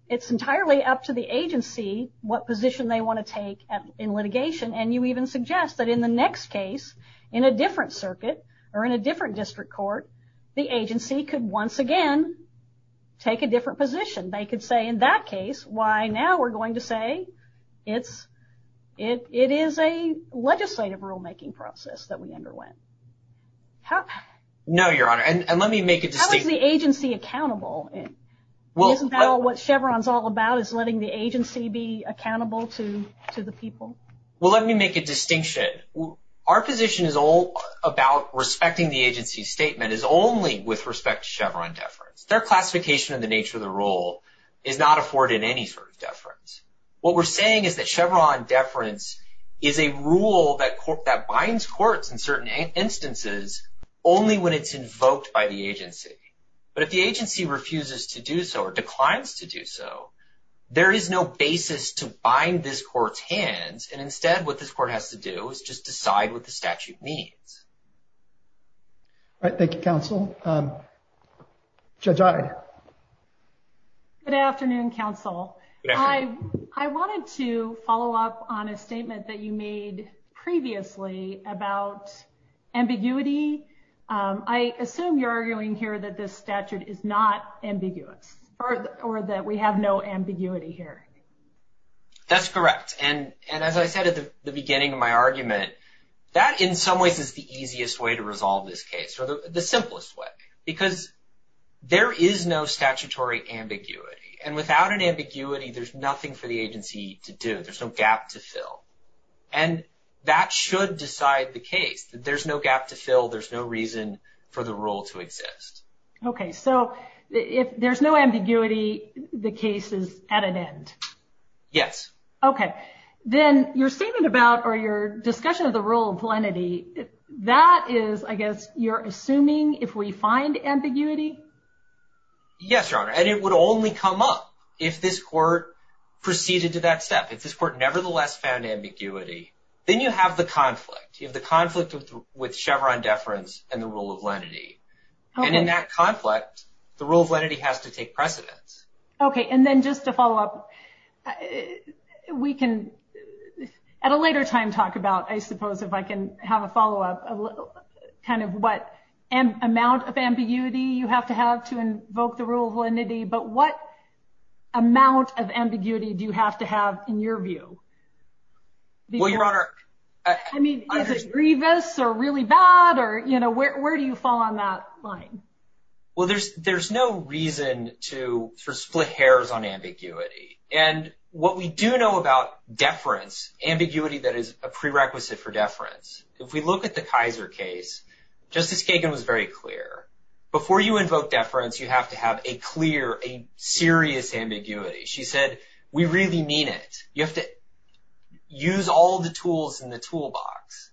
it's entirely up to the agency what position they want to take in litigation. And you even suggest that in the next case, in a different circuit or in a different district court, the agency could once again take a different position. They could say, in that case, why, now, we're going to say it is a legislative rulemaking process that we underwent. No, Your Honor, and let me make a distinction. How is the agency accountable? Isn't that what Chevron's all about, is letting the agency be accountable to the people? Well, let me make a distinction. Our position is all about respecting the agency's statement. It's only with respect to Chevron deference. Their classification of the nature of the rule is not afforded any sort of deference. What we're saying is that Chevron deference is a rule that binds courts in certain instances only when it's invoked by the agency. But if the agency refuses to do so or declines to do so, there is no basis to bind this court's hands, and instead what this court has to do is just decide what the statute means. All right. Thank you, counsel. Judge Ayer. Good afternoon, counsel. I wanted to follow up on a statement that you made previously about ambiguity. I assume you're arguing here that this statute is not ambiguous or that we have no ambiguity here. That's correct, and as I said at the beginning of my argument, that in some ways is the easiest way to resolve this case or the simplest way because there is no statutory ambiguity, and without an ambiguity, there's nothing for the agency to do. There's no gap to fill, and that should decide the case. There's no gap to fill. There's no reason for the rule to exist. Okay. So if there's no ambiguity, the case is at an end. Yes. Okay. Then your statement about or your discussion of the rule of lenity, that is, I guess, you're assuming if we find ambiguity? Yes, Your Honor, and it would only come up if this court proceeded to that step. If this court nevertheless found ambiguity, then you have the conflict. You have the conflict with Chevron deference and the rule of lenity, and in that conflict, the rule of lenity has to take precedence. Okay, and then just to follow up, we can at a later time talk about, I suppose, if I can have a follow-up, kind of what amount of ambiguity you have to have to invoke the rule of lenity, but what amount of ambiguity do you have to have in your view? Well, Your Honor — I mean, is it grievous or really bad or, you know, where do you fall on that line? Well, there's no reason to sort of split hairs on ambiguity, and what we do know about deference, ambiguity that is a prerequisite for deference, if we look at the Kaiser case, Justice Kagan was very clear. Before you invoke deference, you have to have a clear, a serious ambiguity. She said, we really need it. You have to use all the tools in the toolbox.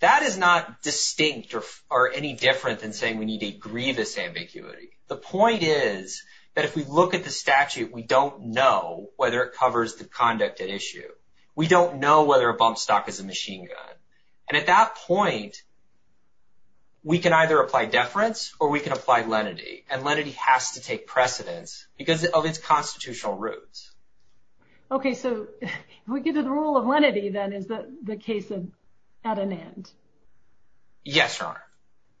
That is not distinct or any different than saying we need a grievous ambiguity. The point is that if we look at the statute, we don't know whether it covers the conduct at issue. We don't know whether a bump stock is a machine gun. And at that point, we can either apply deference or we can apply lenity, and lenity has to take precedence because of its constitutional roots. Okay, so we get to the rule of lenity, then, is the case at an end? Yes, Your Honor.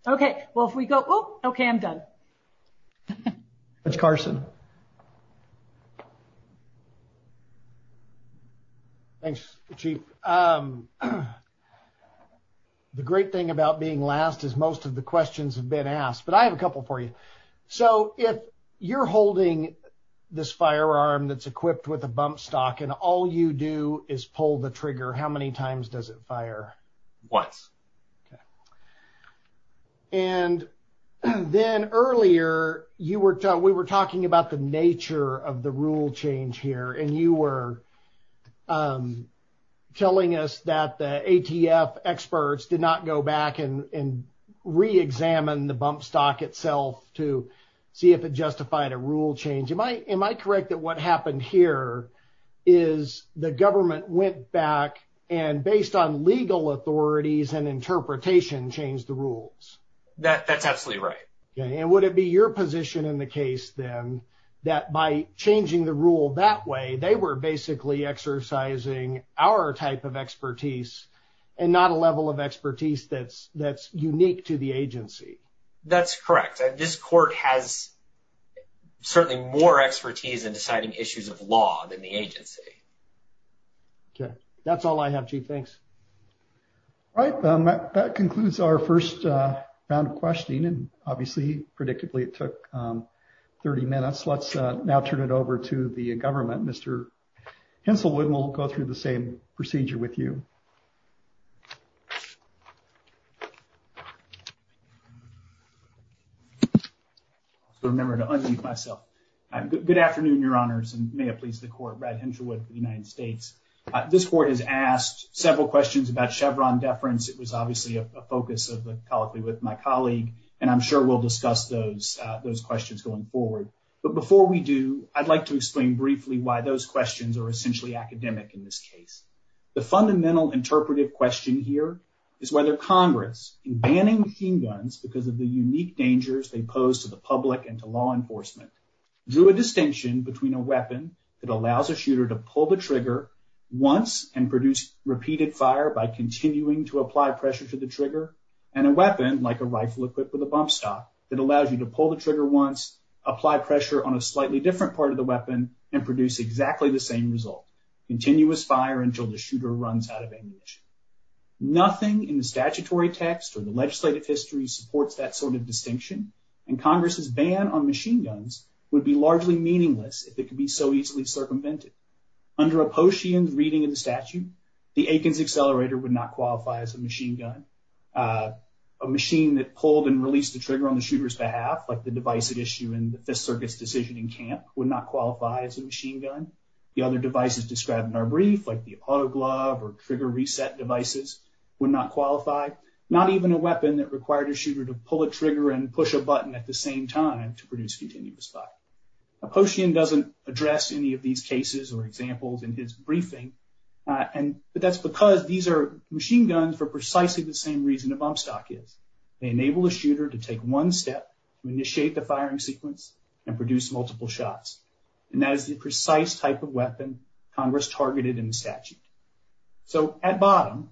Okay, well, if we go — oh, okay, I'm done. Judge Carson. Thanks, Chief. The great thing about being last is most of the questions have been asked, but I have a couple for you. So, if you're holding this firearm that's equipped with a bump stock and all you do is pull the trigger, how many times does it fire? Once. And then earlier, we were talking about the nature of the rule change here, and you were telling us that the ATF experts did not go back and reexamine the bump stock itself to see if it justified a rule change. Am I correct that what happened here is the government went back and, based on legal authorities and interpretation, changed the rules? That's absolutely right. And would it be your position in the case, then, that by changing the rule that way, they were basically exercising our type of expertise and not a level of expertise that's unique to the agency? That's correct. This court has certainly more expertise in deciding issues of law than the agency. Okay, that's all I have, Chief. Thanks. All right, that concludes our first round of questioning, and obviously, predictably, it took 30 minutes. Let's now turn it over to the government. Mr. Henselwood, we'll go through the same procedure with you. I'll remember to unmute myself. Good afternoon, Your Honors, and may it please the Court. Brad Henselwood, United States. This Court has asked several questions about Chevron deference. It was obviously a focus colloquially with my colleague, and I'm sure we'll discuss those questions going forward. But before we do, I'd like to explain briefly why those questions are essentially academic in this case. The fundamental interpretive question here is whether Congress, in banning machine guns because of the unique dangers they pose to the public and to law enforcement, drew a distinction between a weapon that allows a shooter to pull the trigger once and produce repeated fire by continuing to apply pressure to the trigger, and a weapon, like a rifle equipped with a bump stop, that allows you to pull the trigger once, apply pressure on a slightly different part of the weapon, and produce exactly the same result, continuous fire until the shooter runs out of ammunition. Nothing in the statutory text or the legislative history supports that sort of distinction, and Congress's ban on machine guns would be largely meaningless if it could be so easily circumvented. Under a Potian's reading of the statute, the Akins Accelerator would not qualify as a machine gun. A machine that pulled and released the trigger on the shooter's behalf, like the device at issue in the Fifth Circuit's decision in camp, would not qualify as a machine gun. The other devices described in our brief, like the autoglove or trigger reset devices, would not qualify. Not even a weapon that required a shooter to pull a trigger and push a button at the same time to produce continuous fire. Potian doesn't address any of these cases or examples in his briefing, but that's because these are machine guns for precisely the same reason a bump stop is. They enable a shooter to take one step, initiate the firing sequence, and produce multiple shots. And that is the precise type of weapon Congress targeted in the statute. So at bottom,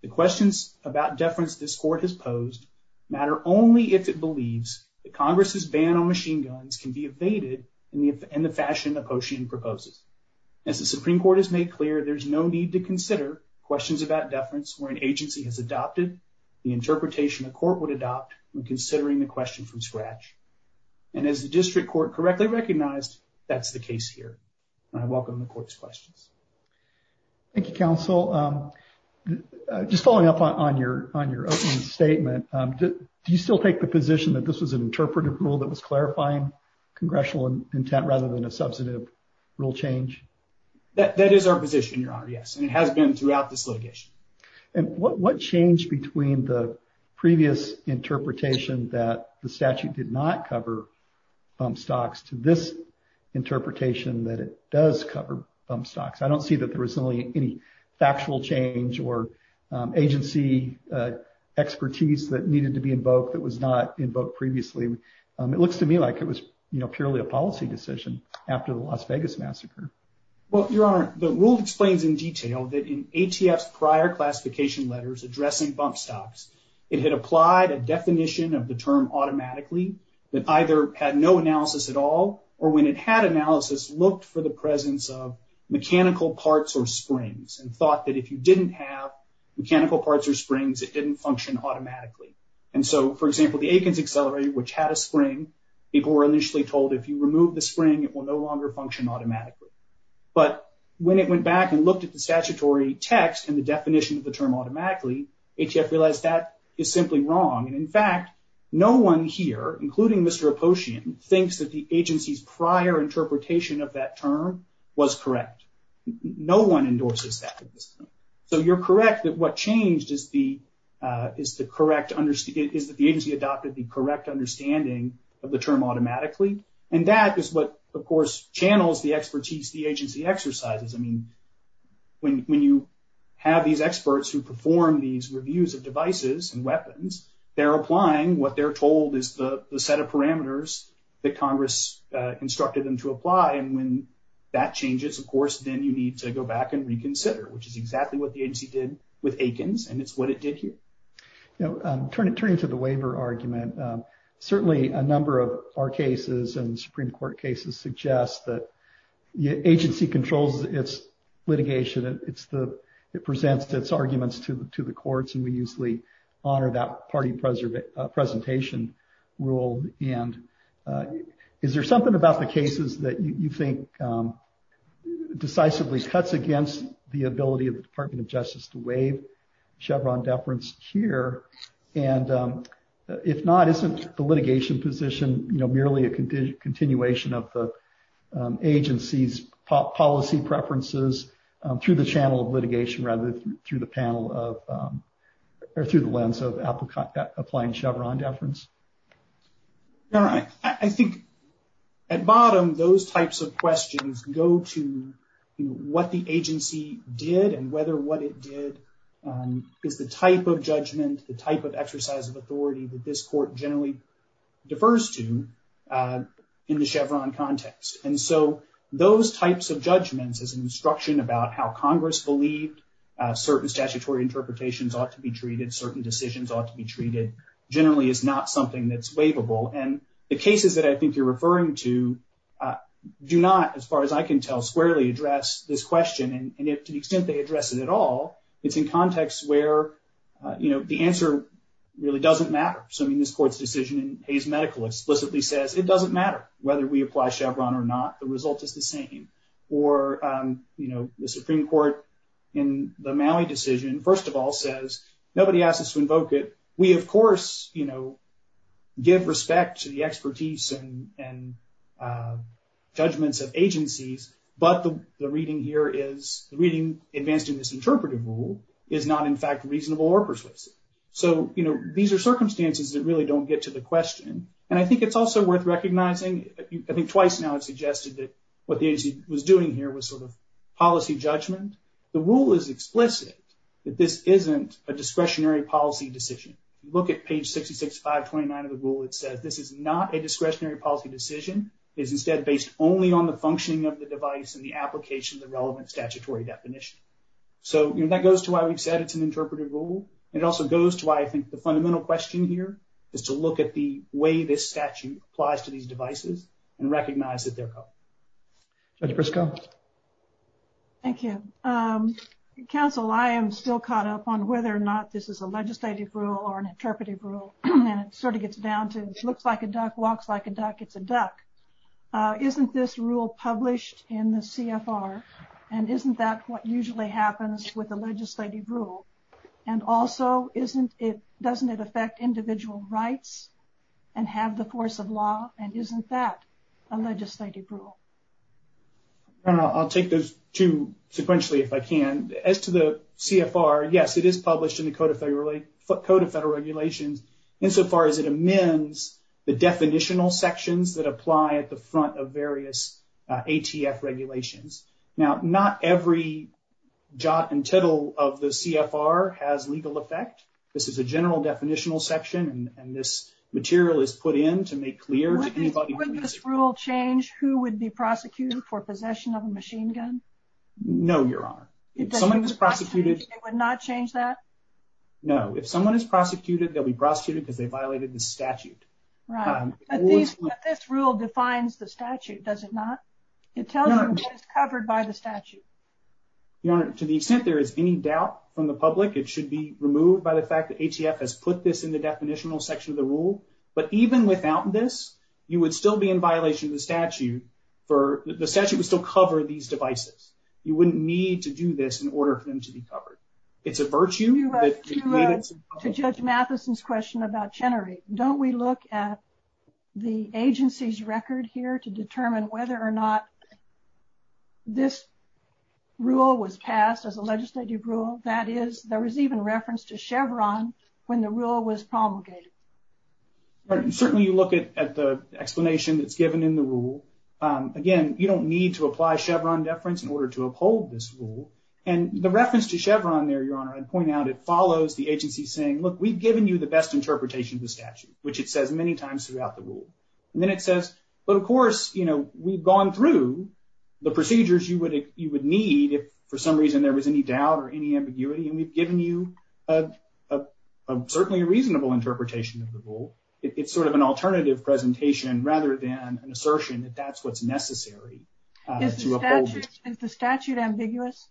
the questions about deference this court has posed matter only if it believes that Congress's ban on machine guns can be evaded in the fashion that Potian proposes. As the Supreme Court has made clear, there's no need to consider questions about deference where an agency has adopted the interpretation the court would adopt when considering the question from scratch. And as the district court correctly recognized, that's the case here. And I welcome the court's questions. Thank you, counsel. Just following up on your opening statement, do you still take the position that this was an interpretive rule that was clarifying congressional intent rather than a substantive rule change? That is our position, your honor, yes, and it has been throughout this litigation. And what changed between the previous interpretation that the statute did not cover bump stops to this interpretation that it does cover bump stops? I don't see that there was really any factual change or agency expertise that needed to be invoked that was not invoked previously. It looks to me like it was purely a policy decision after the Las Vegas massacre. Well, your honor, the rule explains in detail that in ATF's prior classification letters addressing bump stops, it had applied a definition of the term automatically that either had no analysis at all, or when it had analysis, looked for the presence of mechanical parts or springs and thought that if you didn't have mechanical parts or springs, it didn't function automatically. And so, for example, the Akins Accelerator, which had a spring, people were initially told if you remove the spring, it will no longer function automatically. But when it went back and looked at the statutory text and the definition of the term automatically, ATF realized that is simply wrong. And in fact, no one here, including Mr. Apposian, thinks that the agency's prior interpretation of that term was correct. No one endorses that. So you're correct that what changed is that the agency adopted the correct understanding of the term automatically. And that is what, of course, channels the expertise the agency exercises. I mean, when you have these experts who perform these reviews of devices and weapons, they're applying what they're told is the set of parameters that Congress instructed them to apply. And when that changes, of course, then you need to go back and reconsider, which is exactly what the agency did with Akins, and it's what it did here. Now, turning to the waiver argument, certainly a number of our cases and Supreme Court cases suggest that the agency controls its litigation. It presents its arguments to the courts, and we usually honor that party presentation rule. Is there something about the cases that you think decisively cuts against the ability of the Department of Justice to waive Chevron deference here? And if not, isn't the litigation position merely a continuation of the agency's policy preferences through the channel of litigation rather than through the lens of applying Chevron deference? All right. I think at bottom, those types of questions go to what the agency did and whether what it did is the type of judgment, the type of exercise of authority that this court generally defers to in the Chevron context. And so those types of judgments as an instruction about how Congress believed certain statutory interpretations ought to be treated, certain decisions ought to be treated, generally is not something that's waivable. And the cases that I think you're referring to do not, as far as I can tell, squarely address this question. And if to the extent they address it at all, it's in context where the answer really doesn't matter. So in this court's decision, Hayes Medical explicitly says it doesn't matter whether we apply Chevron or not, the result is the same. Or the Supreme Court in the Maui decision, first of all, says nobody asked us to invoke it. We, of course, give respect to the expertise and judgments of agencies, but the reading here is the reading advanced in this interpretive rule is not, in fact, reasonable or persuasive. So these are circumstances that really don't get to the question. And I think it's also worth recognizing, I think twice now it's suggested that what the agency was doing here was sort of policy judgment. The rule is explicit that this isn't a discretionary policy decision. Look at page 66-529 of the rule. It says this is not a discretionary policy decision. It is, instead, based only on the functioning of the device and the application of the relevant statutory definition. So that goes to why we said it's an interpretive rule. It also goes to why I think the fundamental question here is to look at the way this statute applies to these devices and recognize that they're public. Thank you. Counsel, I am still caught up on whether or not this is a legislative rule or an interpretive rule, and it sort of gets down to looks like a duck, walks like a duck, it's a duck. Isn't this rule published in the CFR, and isn't that what usually happens with a legislative rule? And also, doesn't it affect individual rights and have the force of law, and isn't that a legislative rule? I'll take those two sequentially if I can. As to the CFR, yes, it is published in the Code of Federal Regulations insofar as it amends the definitional sections that apply at the front of various ATF regulations. Now, not every jot and tittle of the CFR has legal effect. This is a general definitional section, and this material is put in to make clear to anybody. Wouldn't this rule change who would be prosecuted for possession of a machine gun? No, Your Honor. It would not change that? No. If someone is prosecuted, they'll be prosecuted because they violated the statute. Right. But this rule defines the statute, does it not? It tells you it's covered by the statute. Your Honor, to the extent there is any doubt from the public, it should be removed by the fact that ATF has put this in the definitional section of the rule. But even without this, you would still be in violation of the statute. The statute would still cover these devices. You wouldn't need to do this in order for them to be covered. To Judge Matheson's question about Chenery, don't we look at the agency's record here to determine whether or not this rule was passed as a legislative rule? That is, there was even reference to Chevron when the rule was promulgated. Certainly, you look at the explanation that's given in the rule. Again, you don't need to apply Chevron deference in order to uphold this rule. And the reference to Chevron there, Your Honor, I'd point out, it follows the agency saying, look, we've given you the best interpretation of the statute, which it says many times throughout the rule. And then it says, but of course, you know, we've gone through the procedures you would need if for some reason there was any doubt or any ambiguity. And we've given you certainly a reasonable interpretation of the rule. It's sort of an alternative presentation rather than an assertion that that's what's necessary to uphold it. Is the statute ambiguous?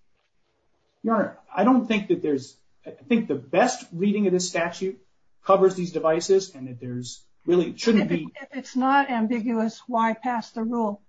Your Honor, I don't think that there's, I think the best reading of the statute covers these devices and that there's really shouldn't be. If it's not ambiguous, why pass the rule?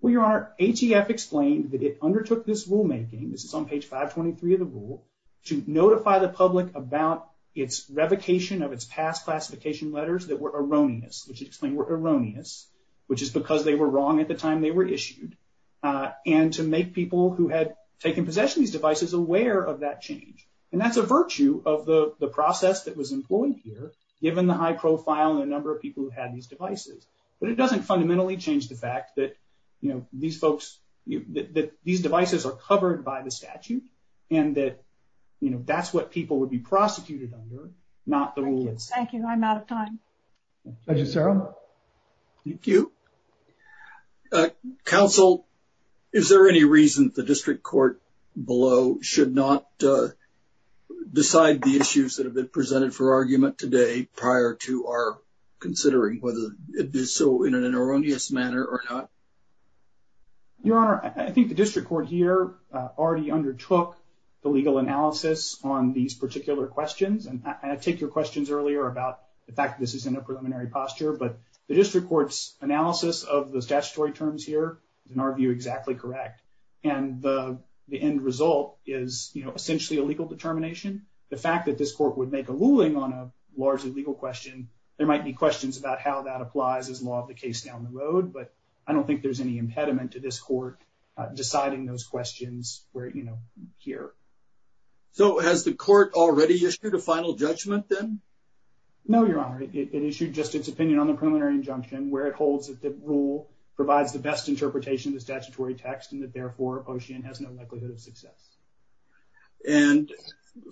Well, Your Honor, HEF explained that it undertook this rulemaking, this is on page 523 of the rule, to notify the public about its revocation of its past classification letters that were erroneous. Which it explained were erroneous, which is because they were wrong at the time they were issued. And to make people who had taken possession of these devices aware of that change. And that's a virtue of the process that was employed here, given the high profile and the number of people who had these devices. But it doesn't fundamentally change the fact that, you know, these folks, that these devices are covered by the statute and that, you know, that's what people would be prosecuted under, not the rules. Thank you. I'm out of time. Thank you. Counsel, is there any reason the district court below should not decide the issues that have been presented for argument today prior to our considering whether it is so in an erroneous manner or not? Your Honor, I think the district court here already undertook the legal analysis on these particular questions. And I take your questions earlier about the fact that this is in a preliminary posture, but the district court's analysis of the statutory terms here, in our view, exactly correct. And the end result is, you know, essentially a legal determination. The fact that this court would make a ruling on a largely legal question, there might be questions about how that applies as law of the case down the road. But I don't think there's any impediment to this court deciding those questions, you know, here. So has the court already issued a final judgment, then? No, Your Honor. It issued just its opinion on the preliminary injunction, where it holds that the rule provides the best interpretation of the statutory text and that, therefore, a potion has no likelihood of success. And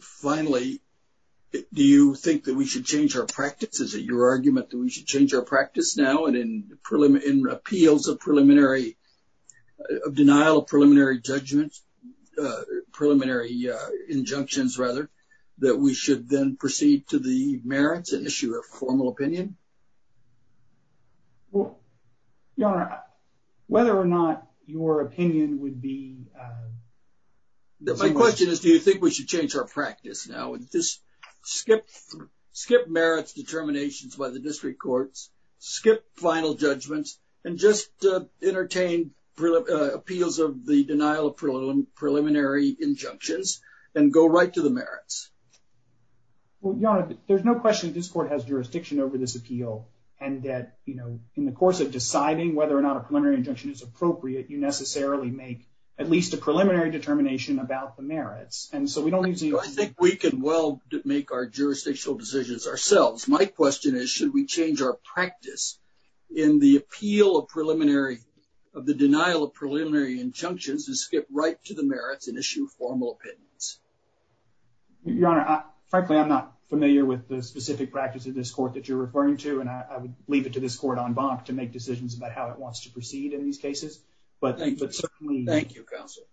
finally, do you think that we should change our practice? Is it your argument that we should change our practice now and in appeals of denial of preliminary judgments, preliminary injunctions, rather, that we should then proceed to the merits and issue a formal opinion? Well, Your Honor, whether or not your opinion would be— My question is, do you think we should change our practice now and just skip merits determinations by the district courts, skip final judgments, and just entertain appeals of the denial of preliminary injunctions and go right to the merits? Well, Your Honor, there's no question this court has jurisdiction over this appeal and that, you know, in the course of deciding whether or not a preliminary injunction is appropriate, you necessarily make at least a preliminary determination about the merits. And so we don't need to— I think we can well make our jurisdictional decisions ourselves. My question is, should we change our practice in the appeal of preliminary—of the denial of preliminary injunctions and skip right to the merits and issue formal opinions? Your Honor, frankly, I'm not familiar with the specific practice of this court that you're referring to, and I would leave it to this court en banc to make decisions about how it wants to proceed in these cases. But certainly— Thank you, counsel.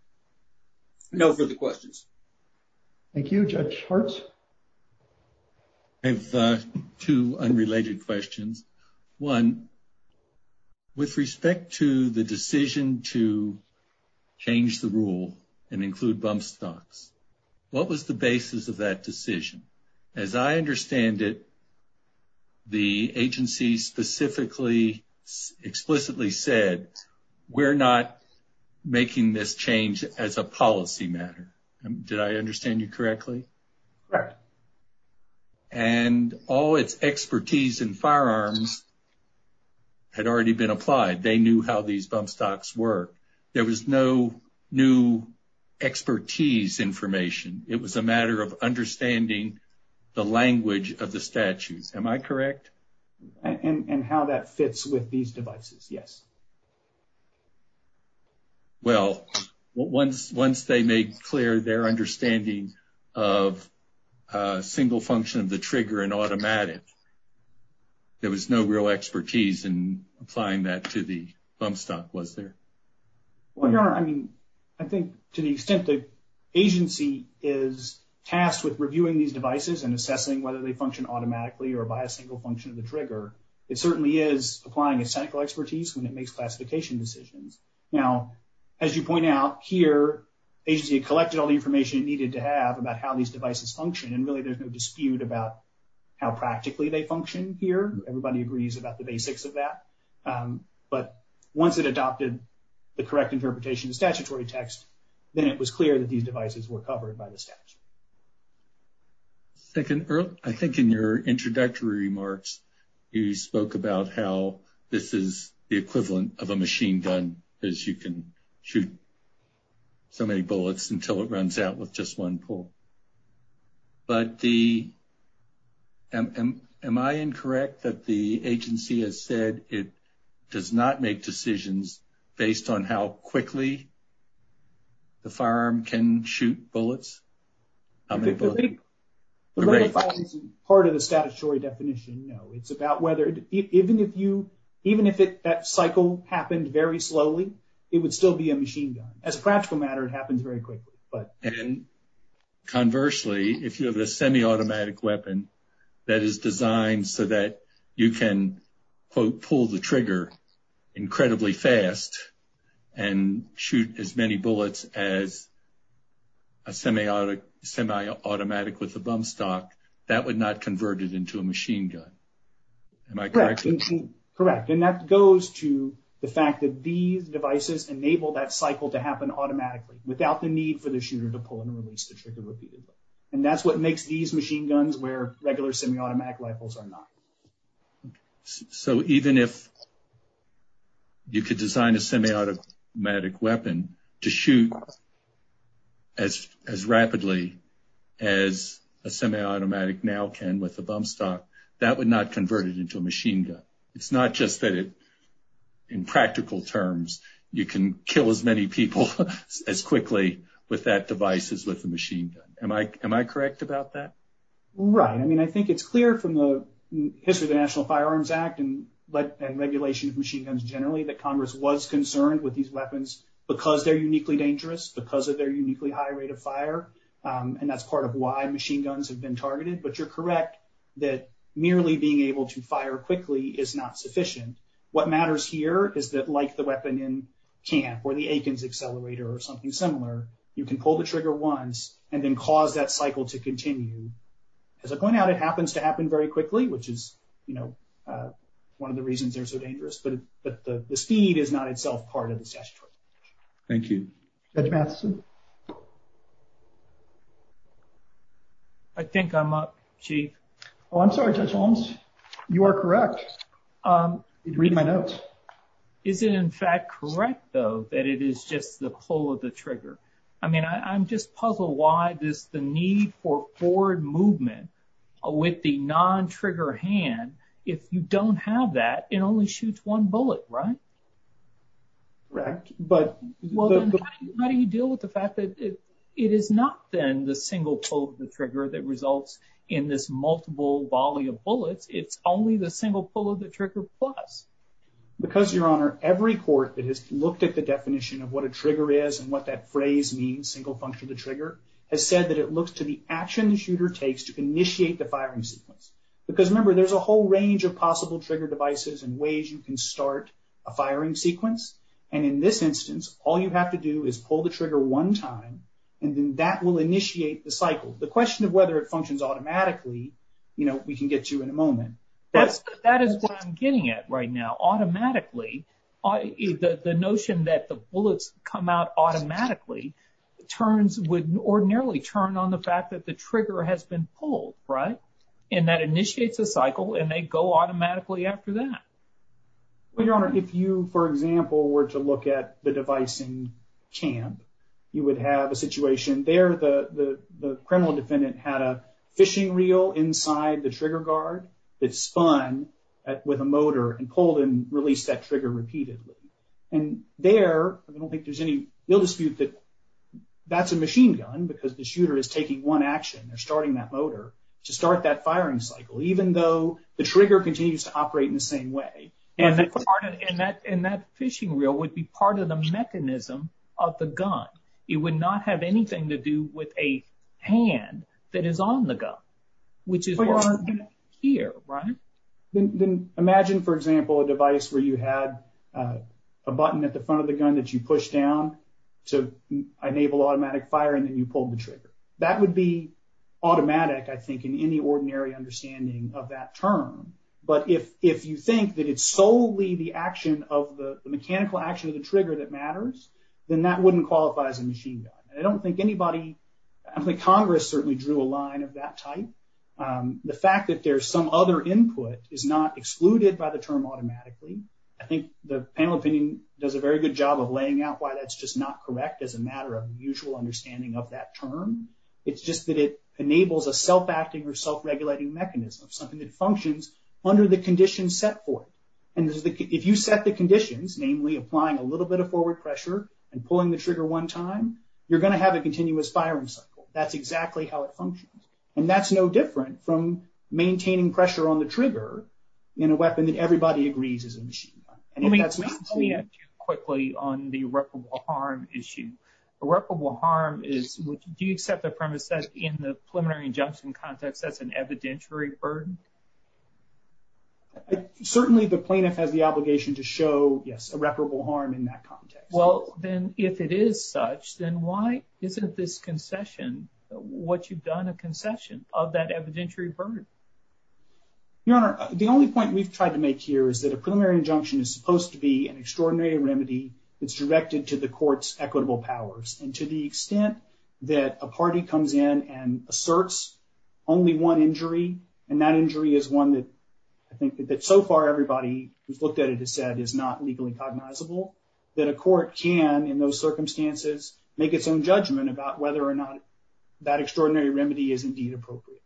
No further questions. Thank you. Judge Hertz? I have two unrelated questions. One, with respect to the decision to change the rule and include bump stocks, what was the basis of that decision? As I understand it, the agency specifically explicitly said, we're not making this change as a policy matter. Did I understand you correctly? Correct. And all its expertise in firearms had already been applied. They knew how these bump stocks work. There was no new expertise information. It was a matter of understanding the language of the statute. Am I correct? And how that fits with these devices, yes. Well, once they made clear their understanding of single function of the trigger and automatic, there was no real expertise in applying that to the bump stock, was there? Well, Your Honor, I mean, I think to the extent that agency is tasked with reviewing these devices and assessing whether they function automatically or by a single function of the trigger, it certainly is applying its technical expertise when it makes classification decisions. Now, as you point out here, the agency collected all the information it needed to have about how these devices function, and really there's no dispute about how practically they function here. Everybody agrees about the basics of that. But once it adopted the correct interpretation of statutory text, then it was clear that these devices were covered by the statute. I think in your introductory remarks, you spoke about how this is the equivalent of a machine gun, as you can shoot so many bullets until it runs out with just one pull. But the – am I incorrect that the agency has said it does not make decisions based on how quickly the firearm can shoot bullets? Part of the statutory definition, no. It's about whether – even if you – even if that cycle happened very slowly, it would still be a machine gun. As a practical matter, it happens very quickly. And conversely, if you have a semi-automatic weapon that is designed so that you can, quote, pull the trigger incredibly fast and shoot as many bullets as a semi-automatic with a bump stock, that would not convert it into a machine gun. Am I correct? Correct. Correct. And that goes to the fact that these devices enable that cycle to happen automatically without the need for the shooter to pull and release the trigger repeatedly. And that's what makes these machine guns where regular semi-automatic rifles are not. So even if you could design a semi-automatic weapon to shoot as rapidly as a semi-automatic now can with a bump stock, that would not convert it into a machine gun. It's not just that in practical terms you can kill as many people as quickly with that device as with a machine gun. Am I correct about that? Right. I mean, I think it's clear from the history of the National Firearms Act and regulation of machine guns generally that Congress was concerned with these weapons because they're uniquely dangerous, because of their uniquely high rate of fire. And that's part of why machine guns have been targeted. But you're correct that merely being able to fire quickly is not sufficient. What matters here is that like the weapon in Cannes or the Athens Accelerator or something similar, you can pull the trigger once and then cause that cycle to continue. As it went out, it happens to happen very quickly, which is one of the reasons they're so dangerous. But the speed is not itself part of the test. Thank you. Judge Matheson? I think I'm up, Chief. Oh, I'm sorry, Judge Holmes. You are correct. Read my notes. Is it in fact correct, though, that it is just the pull of the trigger? I mean, I'm just puzzled why there's the need for forward movement with the non-trigger hand. If you don't have that, it only shoots one bullet, right? Correct. How do you deal with the fact that it is not then the single pull of the trigger that results in this multiple volley of bullets? It's only the single pull of the trigger plus. Because, Your Honor, every court that has looked at the definition of what a trigger is and what that phrase means, single function of the trigger, has said that it looks to the action the shooter takes to initiate the firing sequence. Because, remember, there's a whole range of possible trigger devices and ways you can start a firing sequence. And in this instance, all you have to do is pull the trigger one time, and then that will initiate the cycle. The question of whether it functions automatically, you know, we can get to in a moment. That is what I'm getting at right now. Automatically, the notion that the bullets come out automatically would ordinarily turn on the fact that the trigger has been pulled, right? And that initiates the cycle, and they go automatically after that. Well, Your Honor, if you, for example, were to look at the device in CHAMP, you would have a situation there. The criminal defendant had a fishing reel inside the trigger guard that spun with a motor and pulled and released that trigger repeatedly. And there, I don't think there's any real dispute that that's a machine gun because the shooter is taking one action. They're starting that motor to start that firing cycle, even though the trigger continues to operate in the same way. And that fishing reel would be part of the mechanism of the gun. It would not have anything to do with a hand that is on the gun, which is here, right? Imagine, for example, a device where you had a button at the front of the gun that you pushed down to enable automatic fire and then you pulled the trigger. That would be automatic, I think, in any ordinary understanding of that term. But if you think that it's solely the action of the mechanical action of the trigger that matters, then that wouldn't qualify as a machine gun. I don't think anybody, I think Congress certainly drew a line of that type. The fact that there's some other input is not excluded by the term automatically. I think the panel opinion does a very good job of laying out why that's just not correct as a matter of usual understanding of that term. It's just that it enables a self-acting or self-regulating mechanism, something that functions under the conditions set forth. And if you set the conditions, namely applying a little bit of forward pressure and pulling the trigger one time, you're going to have a continuous firing cycle. That's exactly how it functions. And that's no different from maintaining pressure on the trigger in a weapon that everybody agrees is a machine gun. Let me ask you quickly on the irreparable harm issue. Irreparable harm is, do you set the premise that in the preliminary injunction context, that's an evidentiary burden? Certainly the plaintiff has the obligation to show, yes, irreparable harm in that context. Well, then if it is such, then why isn't this concession what you've done, a concession of that evidentiary burden? Your Honor, the only point we've tried to make here is that a preliminary injunction is supposed to be an extraordinary remedy that's directed to the court's equitable powers. And to the extent that a party comes in and asserts only one injury, and that injury is one that I think that so far everybody who's looked at it has said is not legally cognizable, that a court can, in those circumstances, make its own judgment about whether or not that extraordinary remedy is indeed appropriate.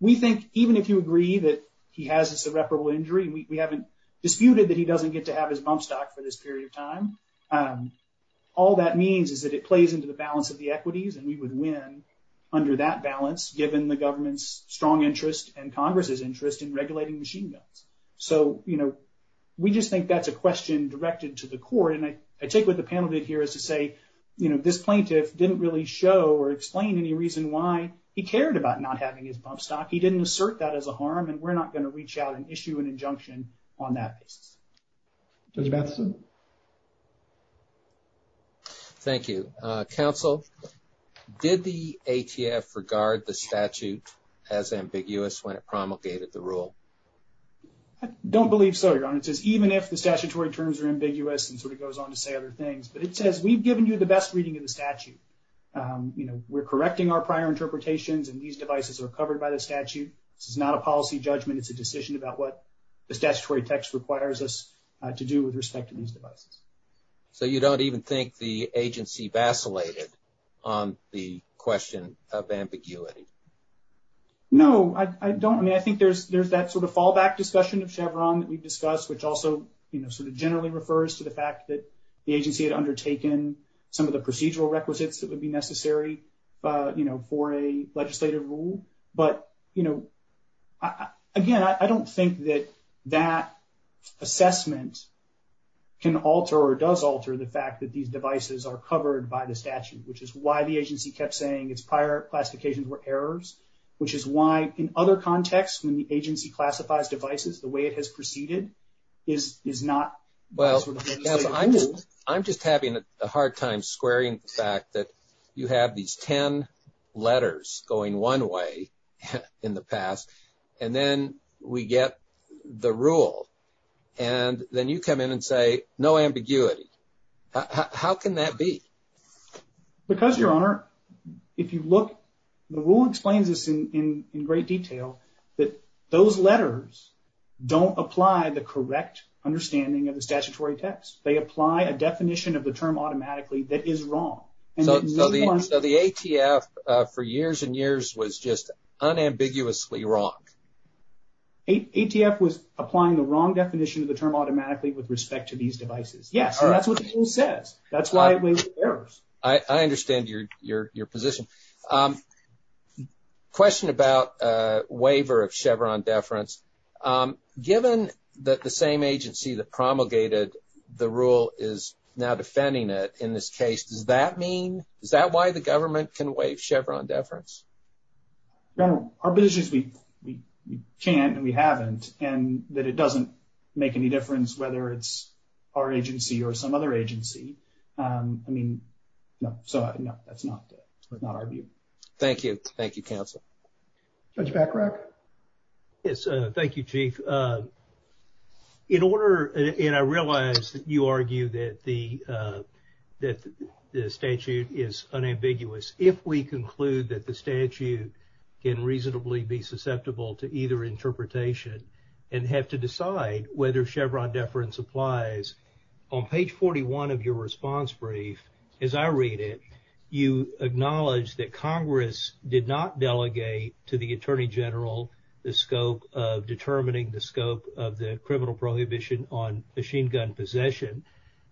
We think even if you agree that he has this irreparable injury, we haven't disputed that he doesn't get to have his bump stock for this period of time. All that means is that it plays into the balance of the equities, and we would win under that balance, given the government's strong interest and Congress's interest in regulating machine guns. So, you know, we just think that's a question directed to the court. And I take what the panel did here is to say, you know, this plaintiff didn't really show or explain any reason why he cared about not having his bump stock. He didn't assert that as a harm, and we're not going to reach out and issue an injunction on that. Judge Batson? Thank you. Counsel, did the ATF regard the statute as ambiguous when it promulgated the rule? I don't believe so, Your Honor, because even if the statutory terms are ambiguous and sort of goes on to say other things, but it says we've given you the best reading of the statute. You know, we're correcting our prior interpretations, and these devices are covered by the statute. This is not a policy judgment. It's a decision about what the statutory text requires us to do with respect to these devices. So you don't even think the agency vacillated on the question of ambiguity? No, I don't. I mean, I think there's that sort of fallback discussion of Chevron that we discussed, which also, you know, sort of generally refers to the fact that the agency had undertaken some of the procedural requisites that would be necessary, you know, for a legislative rule. But, you know, again, I don't think that that assessment can alter or does alter the fact that these devices are covered by the statute, which is why the agency kept saying its prior classifications were errors, which is why, in other contexts, when the agency classifies devices the way it has proceeded is not. Well, I'm just having a hard time squaring the fact that you have these 10 letters going one way in the past, and then we get the rule, and then you come in and say no ambiguity. How can that be? Because, Your Honor, if you look, the rule explains this in great detail, that those letters don't apply the correct understanding of the statutory text. They apply a definition of the term automatically that is wrong. So the ATF for years and years was just unambiguously wrong? ATF was applying the wrong definition of the term automatically with respect to these devices. Yes, that's what the rule says. That's why it was errors. I understand your position. Question about waiver of Chevron deference. Given that the same agency that promulgated the rule is now defending it in this case, does that mean, is that why the government can waive Chevron deference? Your Honor, our position is we can't and we haven't, and that it doesn't make any difference whether it's our agency or some other agency. I mean, no, that's not our view. Thank you. Thank you, counsel. Judge Backrock? Thank you, Chief. In order, and I realize you argue that the statute is unambiguous. If we conclude that the statute can reasonably be susceptible to either interpretation and have to decide whether Chevron deference applies, on page 41 of your response brief, as I read it, you acknowledge that Congress did not delegate to the Attorney General the scope of determining the scope of the criminal prohibition on machine gun possession.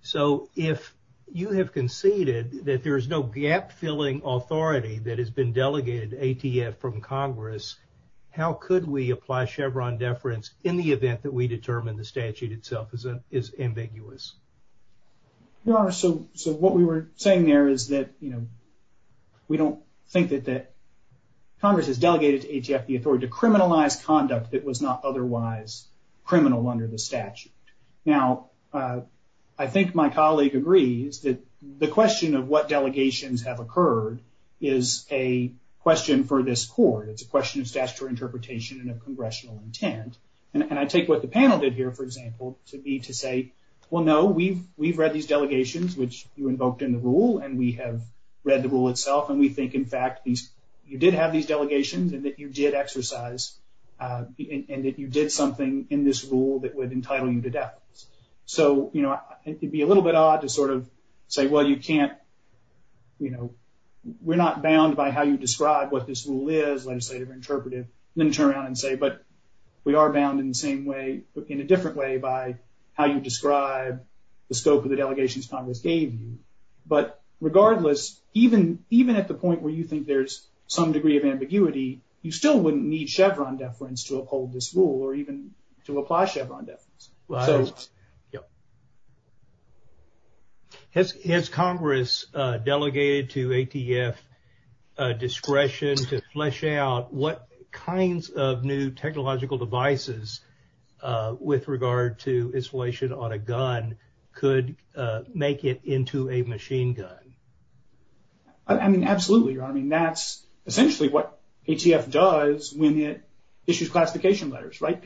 So if you have conceded that there is no gap-filling authority that has been delegated to ATF from Congress, how could we apply Chevron deference in the event that we determine the statute itself is ambiguous? Your Honor, so what we were saying there is that, you know, we don't think that Congress has delegated to ATF the authority to criminalize conduct that was not otherwise criminal under the statute. Now, I think my colleague agrees that the question of what delegations have occurred is a question for this court. It's a question of statutory interpretation and of congressional intent. And I take what the panel did here, for example, to be to say, well, no, we've read these delegations, which you invoked in the rule, and we have read the rule itself, and we think, in fact, you did have these delegations and that you did exercise and that you did something in this rule that would entitle you to death. So, you know, it'd be a little bit odd to sort of say, well, you can't, you know, we're not bound by how you describe what this rule is, let's say, or interpret it, and then turn around and say, but we are bound in the same way, in a different way by how you describe the scope of the delegations Congress gave you. But regardless, even at the point where you think there's some degree of ambiguity, you still wouldn't need Chevron deference to uphold this rule or even to apply Chevron deference. Has Congress delegated to ATF discretion to flesh out what kinds of new technological devices with regard to installation on a gun could make it into a machine gun? I mean, absolutely. I mean, that's essentially what ATF does when it issues classification letters, right?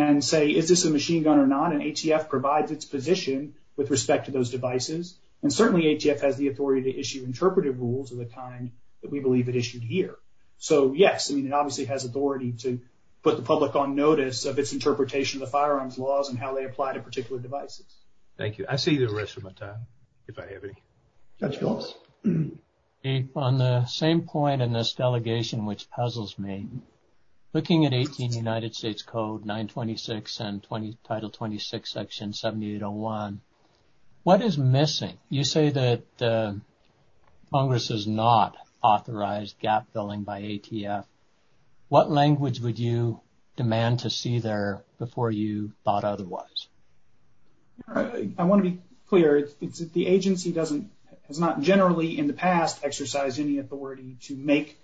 And say, is this a machine gun or not? And ATF provides its position with respect to those devices. And certainly ATF has the authority to issue interpretive rules at the time that we believe it issued here. So, yes, I mean, it obviously has authority to put the public on notice of its interpretation of the firearms laws and how they apply to particular devices. Thank you. I'll save you the rest of my time, if I have any. Judge Gold? On the same point in this delegation, which puzzles me, looking at 18 United States Code 926 and Title 26, Section 7801, what is missing? You say that Congress has not authorized gap filling by ATF. What language would you demand to see there before you thought otherwise? I want to be clear. The agency has not generally in the past exercised any authority to make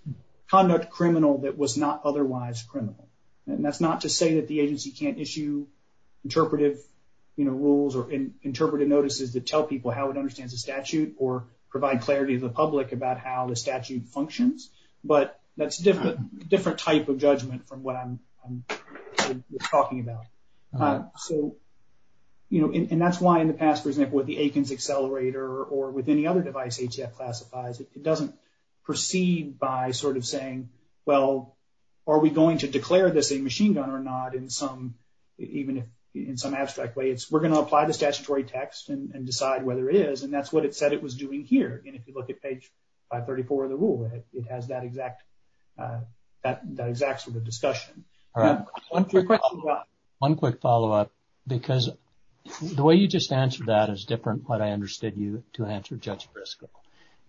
conduct criminal that was not otherwise criminal. And that's not to say that the agency can't issue interpretive rules or interpretive notices to tell people how it understands the statute or provide clarity to the public about how the statute functions. But that's a different type of judgment from what I'm talking about. So, you know, and that's why in the past, for example, with the Athens Accelerator or with any other device ATF classifies, it doesn't proceed by sort of saying, well, are we going to declare this a machine gun or not in some, even in some abstract way? We're going to apply the statutory text and decide whether it is. And that's what it said it was doing here. And if you look at page 534 of the rule, it has that exact sort of discussion. All right. One quick follow up, because the way you just answered that is different. But I understood you to answer Judge Briscoe,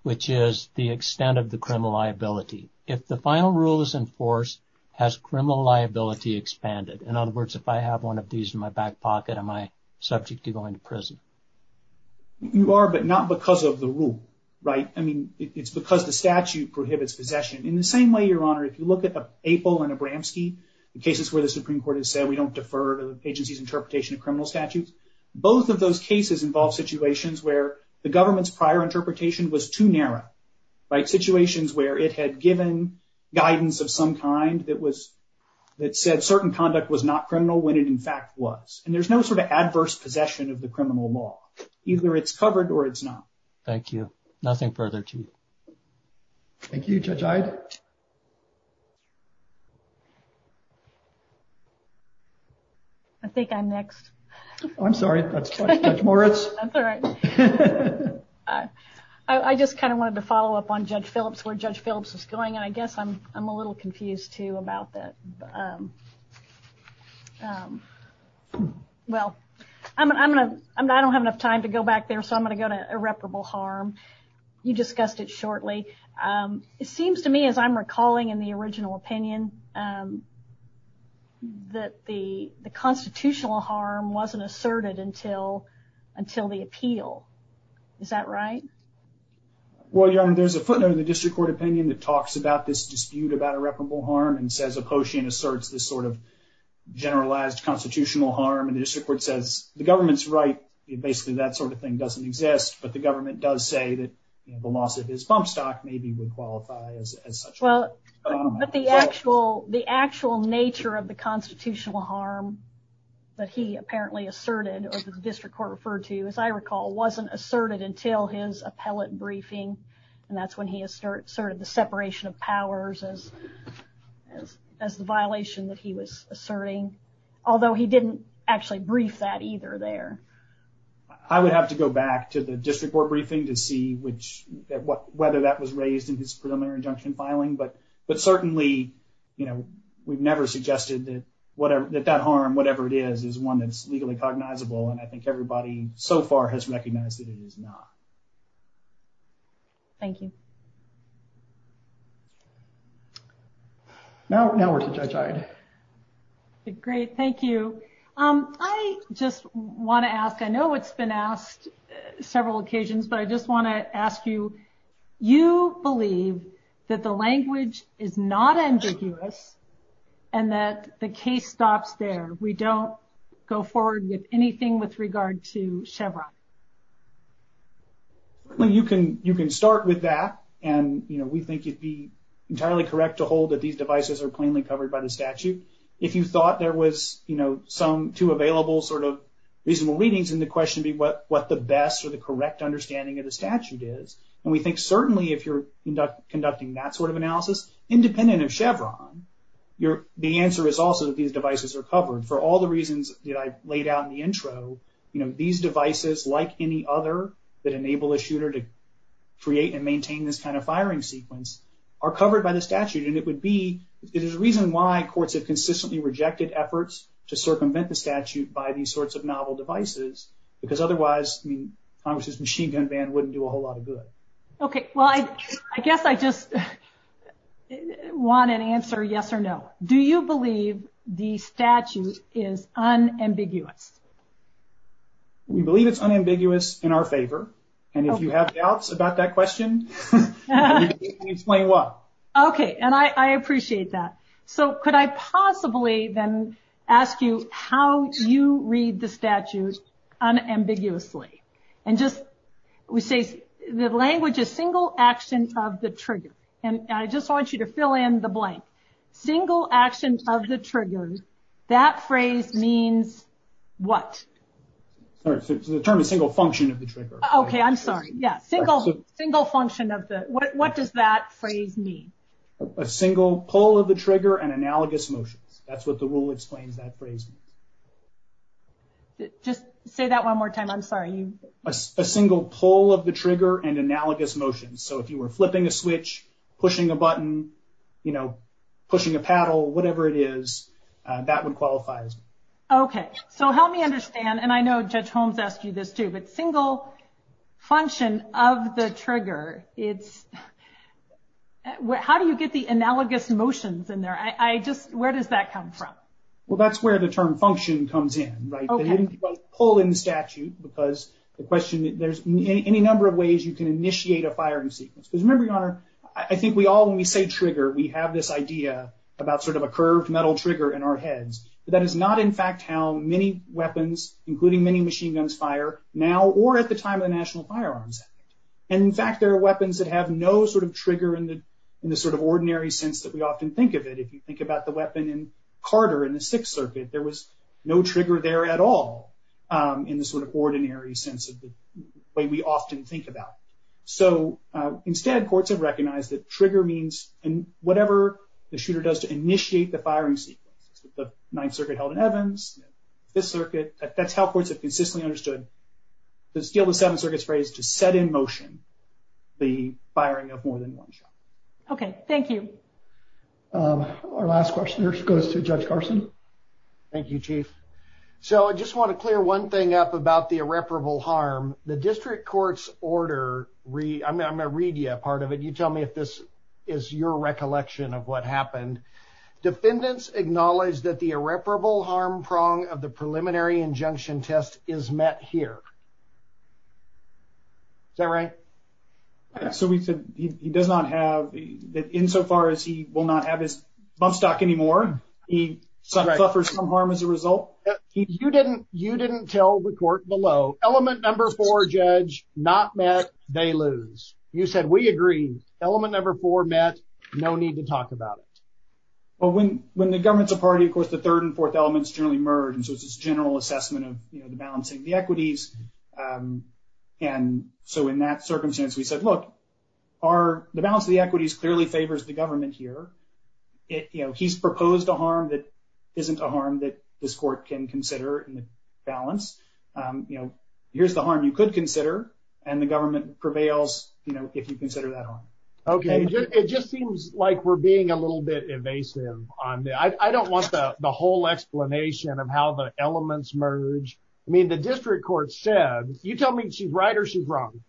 which is the extent of the criminal liability. If the final rule is enforced, has criminal liability expanded? In other words, if I have one of these in my back pocket, am I subject to going to prison? You are, but not because of the rule, right? I mean, it's because the statute prohibits possession. In the same way, Your Honor, if you look at the April and Abramski, the cases where the Supreme Court has said we don't defer to the agency's interpretation of criminal statutes, both of those cases involve situations where the government's prior interpretation was too narrow. Like situations where it had given guidance of some kind that said certain conduct was not criminal when it in fact was. And there's no sort of adverse possession of the criminal law. Either it's covered or it's not. Thank you. Nothing further to you. Thank you, Judge Ivey. I think I'm next. I'm sorry, Judge Moritz. That's all right. I just kind of wanted to follow up on Judge Phillips, where Judge Phillips is going, and I guess I'm a little confused, too, about that. Well, I don't have enough time to go back there, so I'm going to go to irreparable harm. You discussed it shortly. It seems to me, as I'm recalling in the original opinion, that the constitutional harm wasn't asserted until the appeal. Is that right? Well, Your Honor, there's a footnote in the district court opinion that talks about this dispute about irreparable harm and says the quotient asserts this sort of generalized constitutional harm. And the district court says the government's right. Basically, that sort of thing doesn't exist, but the government does say that the loss of his bump stock maybe would qualify as such. But the actual nature of the constitutional harm that he apparently asserted, or the district court referred to, as I recall, wasn't asserted until his appellate briefing. And that's when he asserted the separation of powers as the violation that he was asserting, although he didn't actually brief that either there. I would have to go back to the district court briefing to see whether that was raised in his preliminary injunction filing, but certainly we've never suggested that that harm, whatever it is, is one that's legally cognizable, and I think everybody so far has recognized that it is not. Thank you. Now we're to Judge Hyde. Great, thank you. I just want to ask, I know it's been asked several occasions, but I just want to ask you, you believe that the language is not ambiguous and that the case stops there? We don't go forward with anything with regard to Chevron? You can start with that, and we think it'd be entirely correct to hold that these devices are plainly covered by the statute. If you thought there was some two available sort of reasonable readings, then the question would be what the best or the correct understanding of the statute is. And we think certainly if you're conducting that sort of analysis, independent of Chevron, the answer is also that these devices are covered. For all the reasons that I laid out in the intro, these devices, like any other that enable a shooter to create and maintain this kind of firing sequence, are covered by the statute. And it would be, there's a reason why courts have consistently rejected efforts to circumvent the statute by these sorts of novel devices, because otherwise Congress's machine gun ban wouldn't do a whole lot of good. Okay, well, I guess I just want an answer yes or no. Do you believe the statute is unambiguous? We believe it's unambiguous in our favor. And if you have doubts about that question, you can explain why. Okay, and I appreciate that. So could I possibly then ask you how you read the statute unambiguously? And just, we say the language is single action of the trigger. And I just want you to fill in the blank. Single action of the trigger, that phrase means what? The term is single function of the trigger. Okay, I'm sorry. Yeah, single function of the, what does that phrase mean? A single pull of the trigger and analogous motion. That's what the rule explains that phrase. Just say that one more time. I'm sorry. A single pull of the trigger and analogous motion. So if you were flipping a switch, pushing a button, you know, pushing a paddle, whatever it is, that would qualify. Okay, so help me understand, and I know Judge Holmes asked you this too, but single function of the trigger, it's, how do you get the analogous motions in there? I just, where does that come from? Well, that's where the term function comes in, right? Pulling statute because the question, there's any number of ways you can initiate a firing sequence. Remember, Your Honor, I think we all, when we say trigger, we have this idea about sort of a curved metal trigger in our heads. That is not in fact how many weapons, including many machine guns, fire now or at the time of the National Firearms Act. And in fact, there are weapons that have no sort of trigger in the sort of ordinary sense that we often think of it. If you think about the weapon in Carter in the Sixth Circuit, there was no trigger there at all in the sort of ordinary sense of the way we often think about it. So instead, courts have recognized that trigger means whatever the shooter does to initiate the firing sequence. The Ninth Circuit held in Evans, Fifth Circuit, that's how courts have consistently understood the skill the Seventh Circuit has raised to set in motion the firing of more than one shot. Okay, thank you. Our last question goes to Judge Carson. Thank you, Chief. So I just want to clear one thing up about the irreparable harm. The district court's order, I'm going to read you a part of it. You tell me if this is your recollection of what happened. Defendants acknowledge that the irreparable harm prong of the preliminary injunction test is met here. Is that right? So we said he does not have, that insofar as he will not have his bump stock anymore, he suffers some harm as a result? You didn't tell the court below, element number four, judge, not met, they lose. You said, we agree, element number four met, no need to talk about it. Well, when the government's a party, of course, the third and fourth elements generally merge. So it's a general assessment of the balancing of the equities. And so in that circumstance, we said, look, the balance of the equities clearly favors the government here. He's proposed a harm that isn't a harm that this court can consider in the balance. Here's the harm you could consider, and the government prevails if you consider that harm. Okay, it just seems like we're being a little bit evasive. I don't want the whole explanation of how the elements merge. I mean, the district court said, you tell me she's right or she's wrong.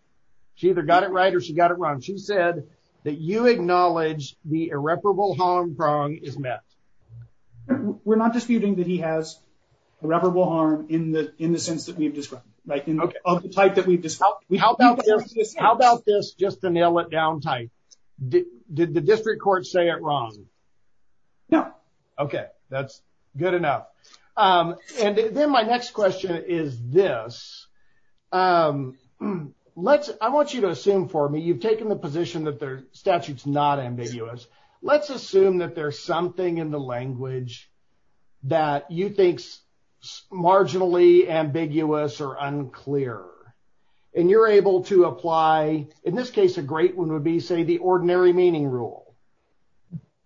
She either got it right or she got it wrong. She said that you acknowledge the irreparable harm prong is met. We're not disputing that he has irreparable harm in the sense that we've described. Of the type that we've described. How about this, just to nail it down tight. Did the district court say it wrong? No. Okay, that's good enough. And then my next question is this. I want you to assume for me, you've taken the position that the statute's not ambiguous. Let's assume that there's something in the language that you think's marginally ambiguous or unclear. And you're able to apply, in this case a great one would be, say, the ordinary meaning rule.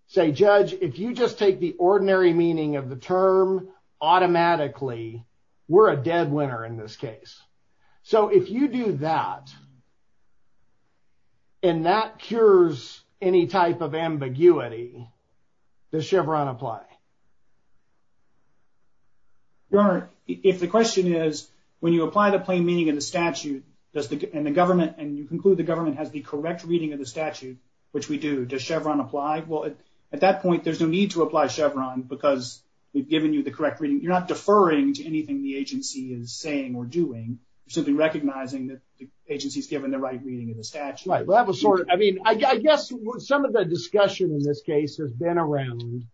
Say, judge, if you just take the ordinary meaning of the term automatically, we're a dead winner in this case. So if you do that, and that cures any type of ambiguity, does Chevron apply? Your Honor, if the question is, when you apply the plain meaning of the statute, and you conclude the government has the correct reading of the statute, which we do, does Chevron apply? Well, at that point, there's no need to apply Chevron because we've given you the correct reading. You're not deferring to anything the agency is saying or doing. You should be recognizing that the agency's given the right reading of the statute. I guess some of the discussion in this case has been around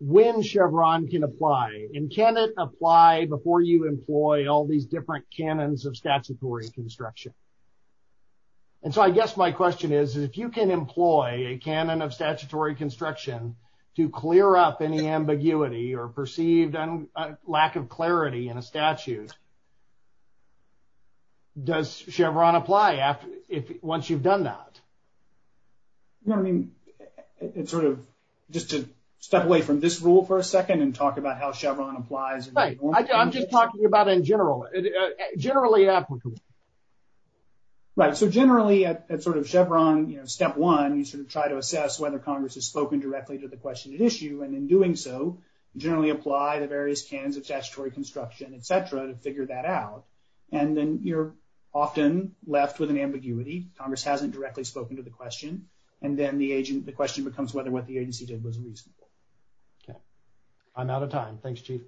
when Chevron can apply. And can it apply before you employ all these different canons of statutory construction? And so I guess my question is, if you can employ a canon of statutory construction to clear up any ambiguity or perceived lack of clarity in a statute, does Chevron apply once you've done that? Your Honor, I mean, sort of just to step away from this rule for a second and talk about how Chevron applies. I'm just talking about in general, generally applicable. Right, so generally at sort of Chevron, you know, step one, you should try to assess whether Congress has spoken directly to the question at issue. And in doing so, generally apply the various canons of statutory construction, et cetera, to figure that out. And then you're often left with an ambiguity. Congress hasn't directly spoken to the question. And then the question becomes whether what the agency did was reasonable. I'm out of time. Thanks, Chief.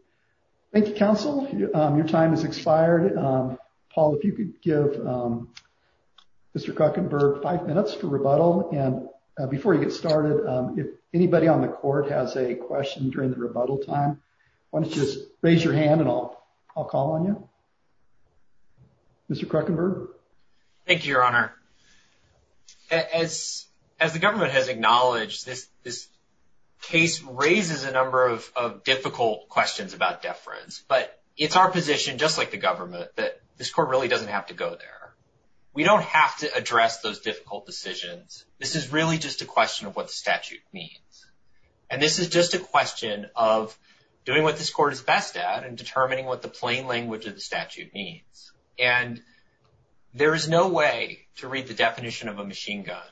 Thank you, counsel. Your time has expired. Paul, if you could give Mr. Guckenberg five minutes for rebuttal. And before you get started, if anybody on the court has any questions during the rebuttal time, why don't you just raise your hand and I'll call on you. Mr. Guckenberg. Thank you, Your Honor. As the government has acknowledged, this case raises a number of difficult questions about deference. But it's our position, just like the government, that this court really doesn't have to go there. We don't have to address those difficult decisions. This is really just a question of what the statute means. And this is just a question of doing what this court is best at and determining what the plain language of the statute means. And there is no way to read the definition of a machine gun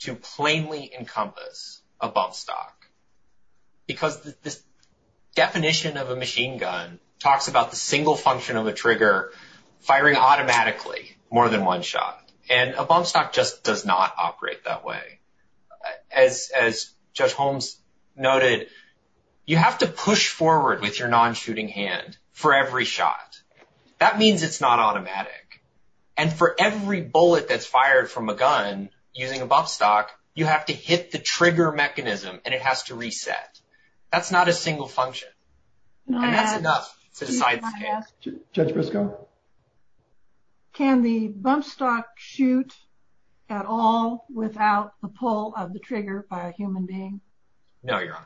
to plainly encompass a bump stock. Because the definition of a machine gun talks about the single function of the trigger firing automatically more than one shot. And a bump stock just does not operate that way. As Judge Holmes noted, you have to push forward with your non-shooting hand for every shot. That means it's not automatic. And for every bullet that's fired from a gun using a bump stock, you have to hit the trigger mechanism and it has to reset. That's not a single function. And that's enough to decide the case. Judge Briscoe? Can the bump stock shoot at all without the pull of the trigger by a human being? No, Your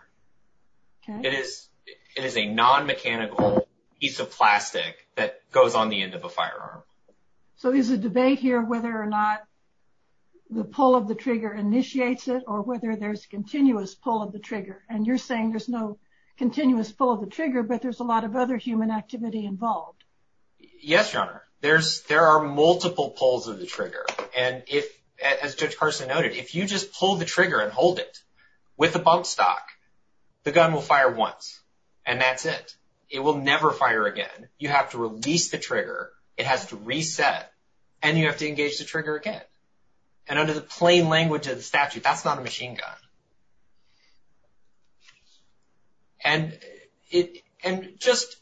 Honor. It is a non-mechanical piece of plastic that goes on the end of a firearm. So there's a debate here whether or not the pull of the trigger initiates it or whether there's continuous pull of the trigger. And you're saying there's no continuous pull of the trigger, but there's a lot of other human activity involved. Yes, Your Honor. There are multiple pulls of the trigger. And as Judge Carson noted, if you just pull the trigger and hold it with the bump stock, the gun will fire once. And that's it. It will never fire again. You have to release the trigger, it has to reset, and you have to engage the trigger again. And under the plain language of the statute, that's not a machine gun. And just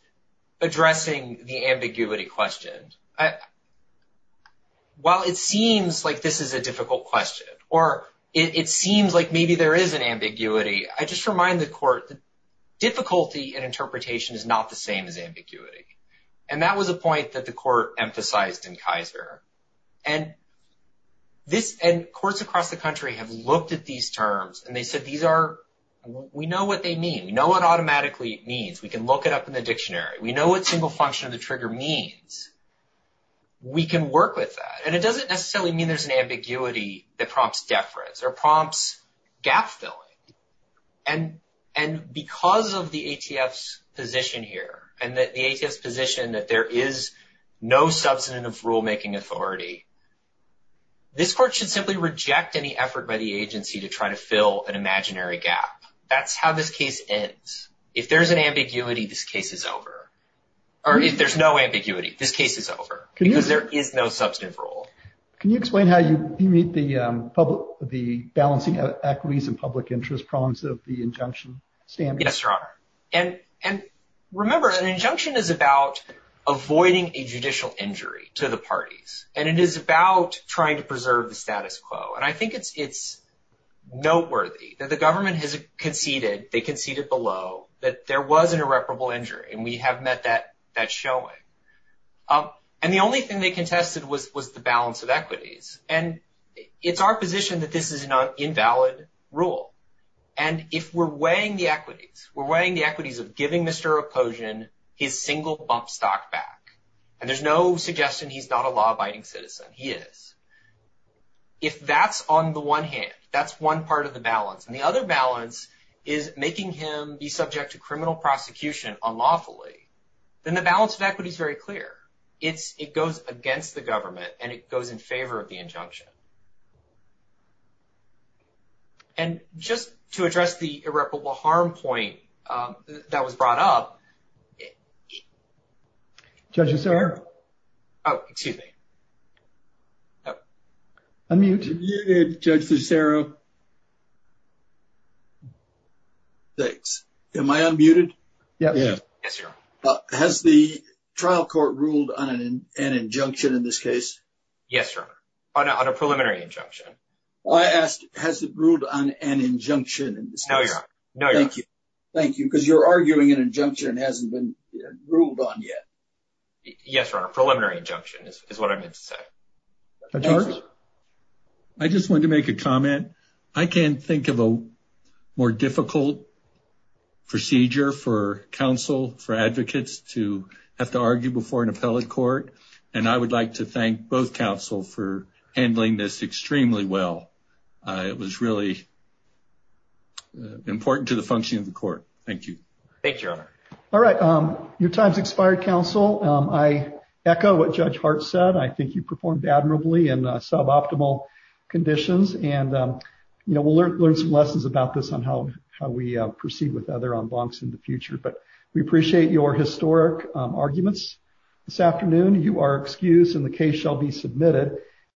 addressing the ambiguity question. While it seems like this is a difficult question, or it seems like maybe there is an ambiguity, I just remind the Court that difficulty in interpretation is not the same as ambiguity. And that was a point that the Court emphasized in Kaiser. And courts across the country have looked at these terms and they said, we know what they mean. We know what automatically it means. We can look it up in the dictionary. We know what single function of the trigger means. We can work with that. And it doesn't necessarily mean there's an ambiguity that prompts deference or prompts gap-filling. And because of the ATF's position here, and the ATF's position that there is no substantive rulemaking authority, this Court should simply reject any effort by the agency to try to fill an imaginary gap. That's how this case ends. If there's an ambiguity, this case is over. Or if there's no ambiguity, this case is over. Because there is no substantive rule. Can you explain how you meet the balancing of equities and public interest prongs of the injunction? Yes, Your Honor. And remember, an injunction is about avoiding a judicial injury to the parties. And it is about trying to preserve the status quo. And I think it's noteworthy that the government has conceded, they conceded below, that there was an irreparable injury. And we have met that showing. And the only thing they contested was the balance of equities. And it's our position that this is an invalid rule. And if we're weighing the equities, we're weighing the equities of giving Mr. Reposian his single bump stock back, and there's no suggestion he's not a law-abiding citizen, he is. If that's on the one hand, that's one part of the balance, and the other balance is making him be subject to criminal prosecution unlawfully, then the balance of equity is very clear. It goes against the government, and it goes in favor of the injunction. And just to address the irreparable harm point that was brought up. Judge DiCero? Oh, excuse me. I mean, you did, Judge DiCero. Thanks. Am I unmuted? Yes, you are. Has the trial court ruled on an injunction in this case? Yes, Your Honor, on a preliminary injunction. I asked, has it ruled on an injunction in this case? No, Your Honor. Thank you, because you're arguing an injunction hasn't been ruled on yet. Yes, Your Honor, a preliminary injunction is what I meant to say. Judge Lewis? I just wanted to make a comment. I can't think of a more difficult procedure for counsel, for advocates to have to argue before an appellate court, and I would like to thank both counsel for handling this extremely well. It was really important to the function of the court. Thank you. Thanks, Your Honor. All right. Your time has expired, counsel. I echo what Judge Hart said. I think you performed admirably in suboptimal conditions, and we'll learn some lessons about this on how we proceed with other en bancs in the future, but we appreciate your historic arguments this afternoon. You are excused, and the case shall be submitted.